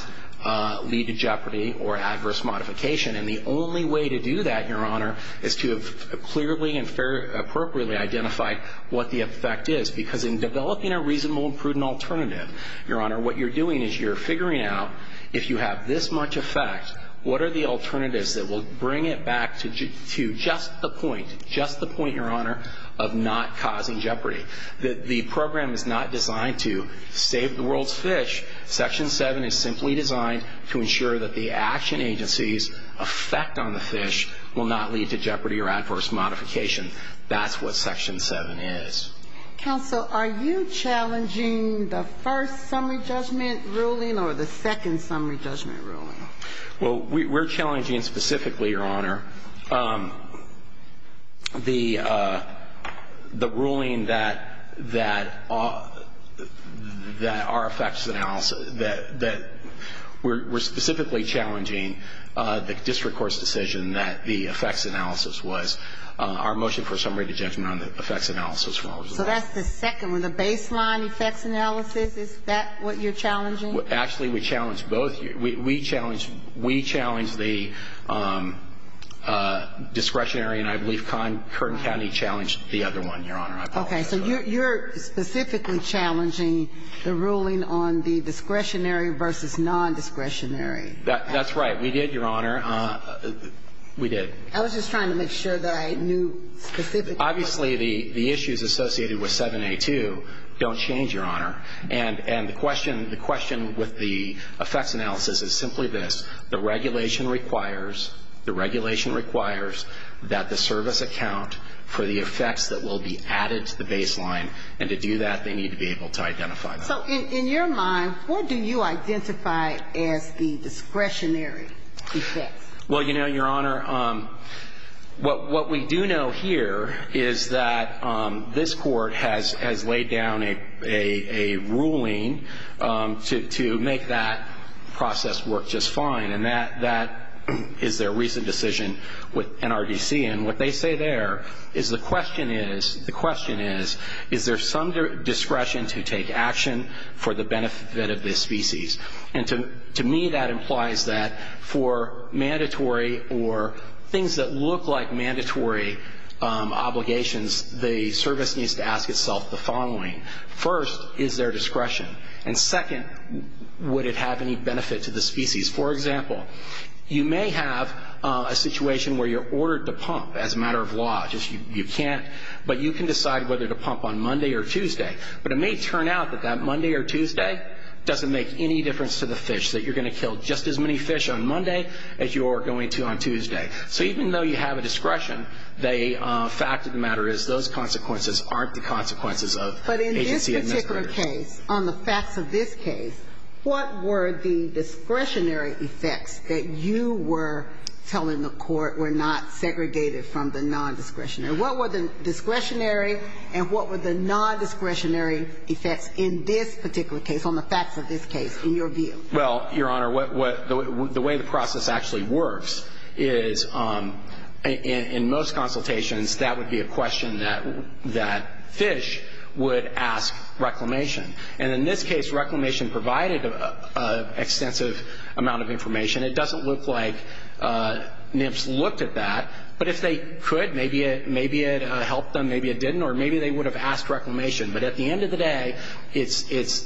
lead to jeopardy or adverse modification. And the only way to do that, Your Honor, is to have clearly and appropriately identified what the effect is. Because in developing a reasonable and prudent alternative, Your Honor, what you're doing is you're figuring out if you have this much effect, what are the alternatives that will bring it back to just the point, just the point, Your Honor, of not causing jeopardy. The program is not designed to save the world's fish. Section 7 is simply designed to ensure that the action agency's effect on the fish will not lead to jeopardy or adverse modification. That's what Section 7 is. Counsel, are you challenging the first summary judgment ruling or the second summary judgment ruling? Well, we're challenging specifically, Your Honor, the ruling that our effects analysis, that we're specifically challenging the district court's decision that the effects analysis was our motion for summary judgment on the effects analysis from our results. So that's the second one, the baseline effects analysis, is that what you're challenging? Actually, we challenge both. We challenge the discretionary, and I believe Curtin County challenged the other one, Your Honor. Okay. So you're specifically challenging the ruling on the discretionary versus non-discretionary. That's right. We did, Your Honor. We did. I was just trying to make sure that I knew specifically. Obviously, the issues associated with 7A2 don't change, Your Honor. And the question with the effects analysis is simply this. The regulation requires, the regulation requires that the service account for the effects that will be added to the baseline, and to do that they need to be able to identify them. So in your mind, what do you identify as the discretionary effects? Well, you know, Your Honor, what we do know here is that this court has laid down a ruling to make that process work just fine, and that is their recent decision with NRDC. And what they say there is the question is, the question is, is there some discretion to take action for the benefit of this species? And to me that implies that for mandatory or things that look like mandatory obligations, the service needs to ask itself the following. First, is there discretion? And second, would it have any benefit to the species? For example, you may have a situation where you're ordered to pump as a matter of law. You can't, but you can decide whether to pump on Monday or Tuesday. But it may turn out that that Monday or Tuesday doesn't make any difference to the fish, that you're going to kill just as many fish on Monday as you are going to on Tuesday. So even though you have a discretion, the fact of the matter is, those consequences aren't the consequences of agency administrators. But in this particular case, on the facts of this case, what were the discretionary effects that you were telling the court were not segregated from the non-discretionary? What were the discretionary and what were the non-discretionary effects in this particular case, on the facts of this case, in your view? Well, Your Honor, the way the process actually works is, in most consultations, that would be a question that fish would ask reclamation. And in this case, reclamation provided an extensive amount of information. It doesn't look like NIPS looked at that. But if they could, maybe it helped them, maybe it didn't, or maybe they would have asked reclamation. But at the end of the day, it's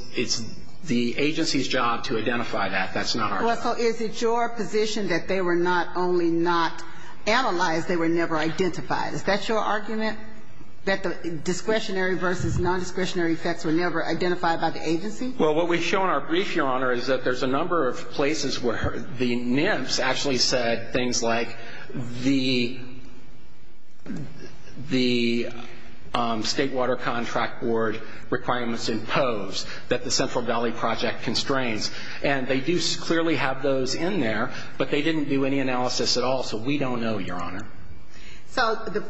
the agency's job to identify that. That's not our job. Well, so is it your position that they were not only not analyzed, they were never identified? Is that your argument, that the discretionary versus non-discretionary effects were never identified by the agency? Well, what we show in our brief, Your Honor, is that there's a number of places where the NIPS actually said things like, the State Water Contract Board requirements impose that the Central Valley Project constrains. And they do clearly have those in there, but they didn't do any analysis at all, so we don't know, Your Honor. So the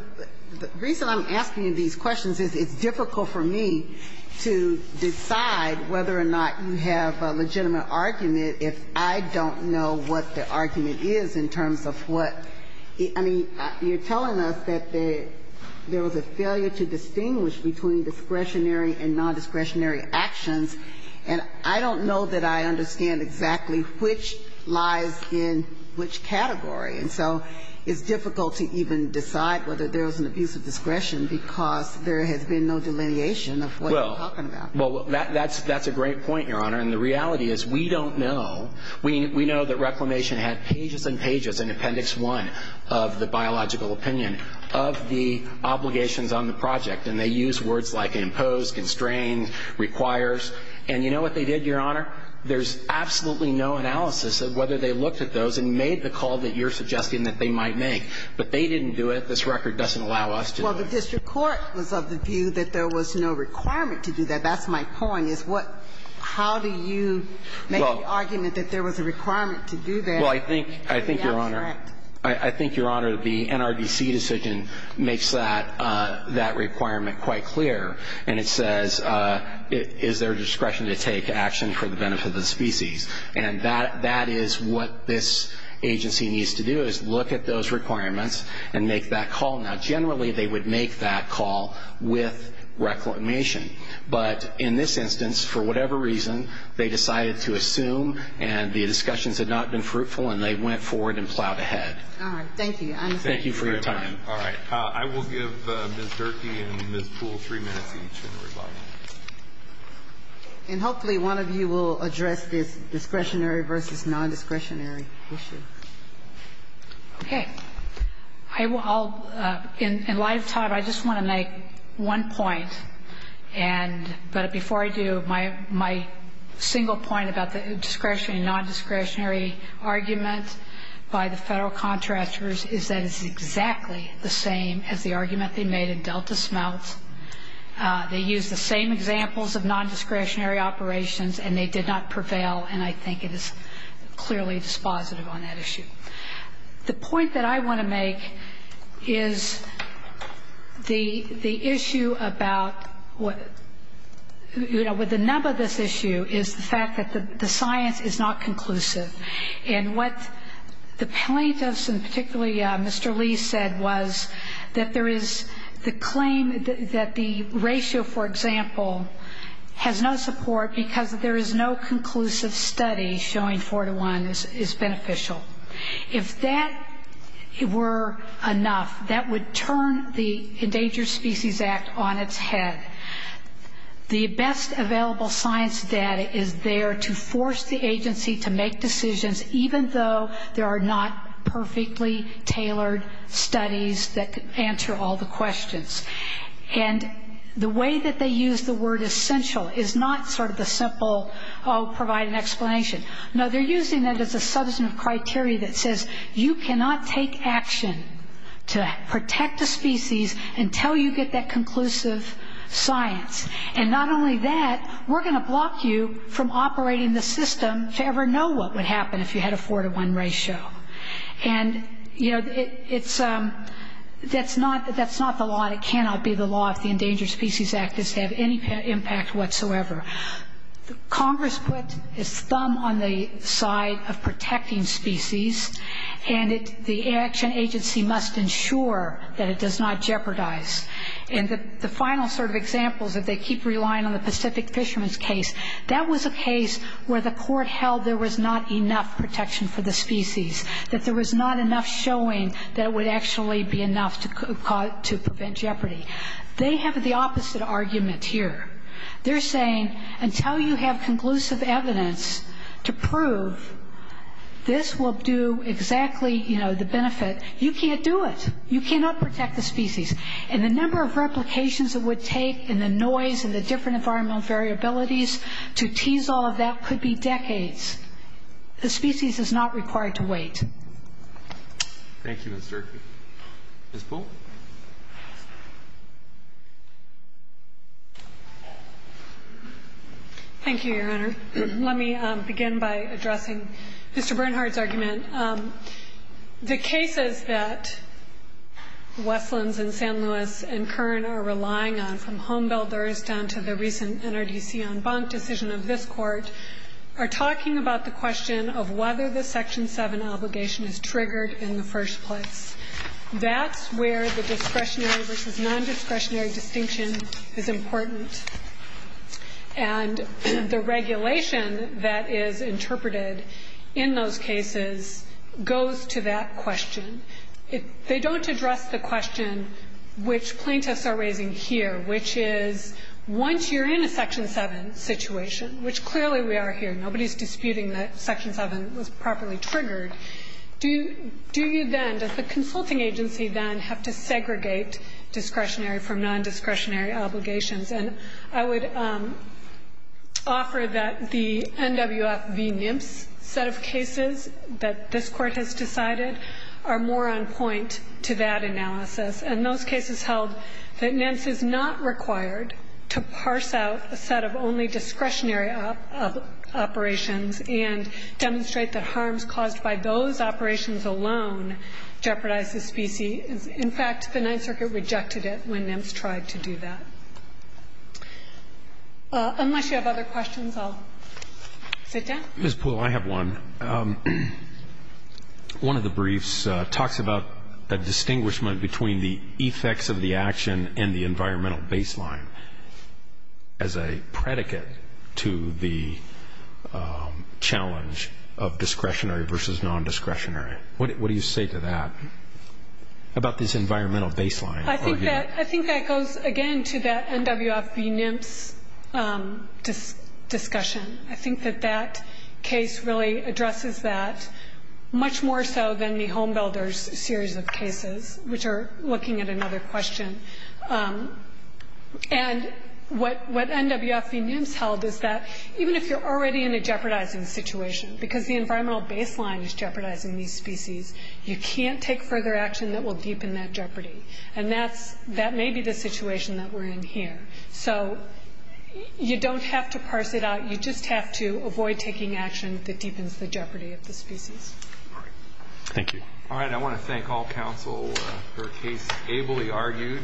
reason I'm asking you these questions is it's difficult for me to decide whether or not you have a legitimate argument if I don't know what the argument is in terms of what, I mean, you're telling us that there was a failure to distinguish between discretionary and non-discretionary actions, and I don't know that I understand exactly which lies in which category. And so it's difficult to even decide whether there was an abuse of discretion because there has been no delineation of what you're talking about. Well, that's a great point, Your Honor, and the reality is we don't know. We know that Reclamation had pages and pages in Appendix I of the biological opinion of the obligations on the project, and they used words like imposed, constrained, requires. And you know what they did, Your Honor? There's absolutely no analysis of whether they looked at those and made the call that you're suggesting that they might make. But they didn't do it. This record doesn't allow us to do that. Well, the district court was of the view that there was no requirement to do that. Well, I think, Your Honor, I think, Your Honor, the NRDC decision makes that requirement quite clear, and it says is there discretion to take action for the benefit of the species. And that is what this agency needs to do, is look at those requirements and make that call. Now, generally, they would make that call with Reclamation, but in this instance, for whatever reason, they decided to assume, and the discussions had not been fruitful, and they went forward and plowed ahead. All right. Thank you. Thank you for your time. All right. I will give Ms. Durkee and Ms. Poole three minutes each in reply. And hopefully one of you will address this discretionary versus non-discretionary issue. Okay. In light of time, I just want to make one point. But before I do, my single point about the discretionary and non-discretionary argument by the federal contractors is that it's exactly the same as the argument they made in Delta Smeltz. They used the same examples of non-discretionary operations, and they did not prevail, and I think it is clearly dispositive on that issue. The point that I want to make is the issue about what the nub of this issue is the fact that the science is not conclusive. And what the plaintiffs, and particularly Mr. Lee, said was that there is the claim that the ratio, for example, has no support because there is no conclusive study showing four to one is beneficial. If that were enough, that would turn the Endangered Species Act on its head. The best available science data is there to force the agency to make decisions, even though there are not perfectly tailored studies that answer all the questions. And the way that they use the word essential is not sort of the simple, oh, provide an explanation. No, they're using that as a substantive criteria that says you cannot take action to protect a species until you get that conclusive science. And not only that, we're going to block you from operating the system to ever know what would happen if you had a four to one ratio. And, you know, that's not the law. It cannot be the law if the Endangered Species Act is to have any impact whatsoever. Congress put its thumb on the side of protecting species, and the action agency must ensure that it does not jeopardize. And the final sort of examples, if they keep relying on the Pacific fishermen's case, that was a case where the court held there was not enough protection for the species, that there was not enough showing that it would actually be enough to prevent jeopardy. They have the opposite argument here. They're saying until you have conclusive evidence to prove this will do exactly, you know, the benefit, you can't do it. You cannot protect the species. And the number of replications it would take and the noise and the different environmental variabilities to tease all of that could be decades. The species is not required to wait. Thank you, Mr. Earp. Ms. Poole. Thank you, Your Honor. Let me begin by addressing Mr. Bernhardt's argument. The cases that Westlands and San Luis and Kern are relying on, from homebuilders down to the recent NRDC en banc decision of this Court, are talking about the question of whether the Section 7 obligation is triggered in the first place. That's where the discretionary versus nondiscretionary distinction is important. And the regulation that is interpreted in those cases goes to that question. They don't address the question which plaintiffs are raising here, which is once you're in a Section 7 situation, which clearly we are here. Nobody is disputing that Section 7 was properly triggered. Do you then, does the consulting agency then have to segregate discretionary from nondiscretionary obligations? And I would offer that the NWF v. NMFS set of cases that this Court has decided are more on point to that analysis. And those cases held that NMFS is not required to parse out a set of only discretionary operations and demonstrate the harms caused by those operations alone jeopardize the species. In fact, the Ninth Circuit rejected it when NMFS tried to do that. Unless you have other questions, I'll sit down. Ms. Poole, I have one. One of the briefs talks about a distinguishment between the effects of the action and the environmental baseline as a predicate to the challenge of discretionary versus nondiscretionary. What do you say to that about this environmental baseline? I think that goes, again, to that NWF v. NMFS discussion. I think that that case really addresses that much more so than the homebuilders series of cases, which are looking at another question. And what NWF v. NMFS held is that even if you're already in a jeopardizing situation, because the environmental baseline is jeopardizing these species, you can't take further action that will deepen that jeopardy. And that may be the situation that we're in here. So you don't have to parse it out. You just have to avoid taking action that deepens the jeopardy of the species. All right. Thank you. All right. I want to thank all counsel for a case ably argued.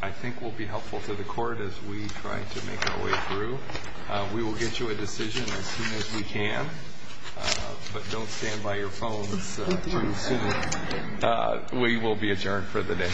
I think it will be helpful to the court as we try to make our way through. We will get you a decision as soon as we can. But don't stand by your phones too soon. We will be adjourned for the day.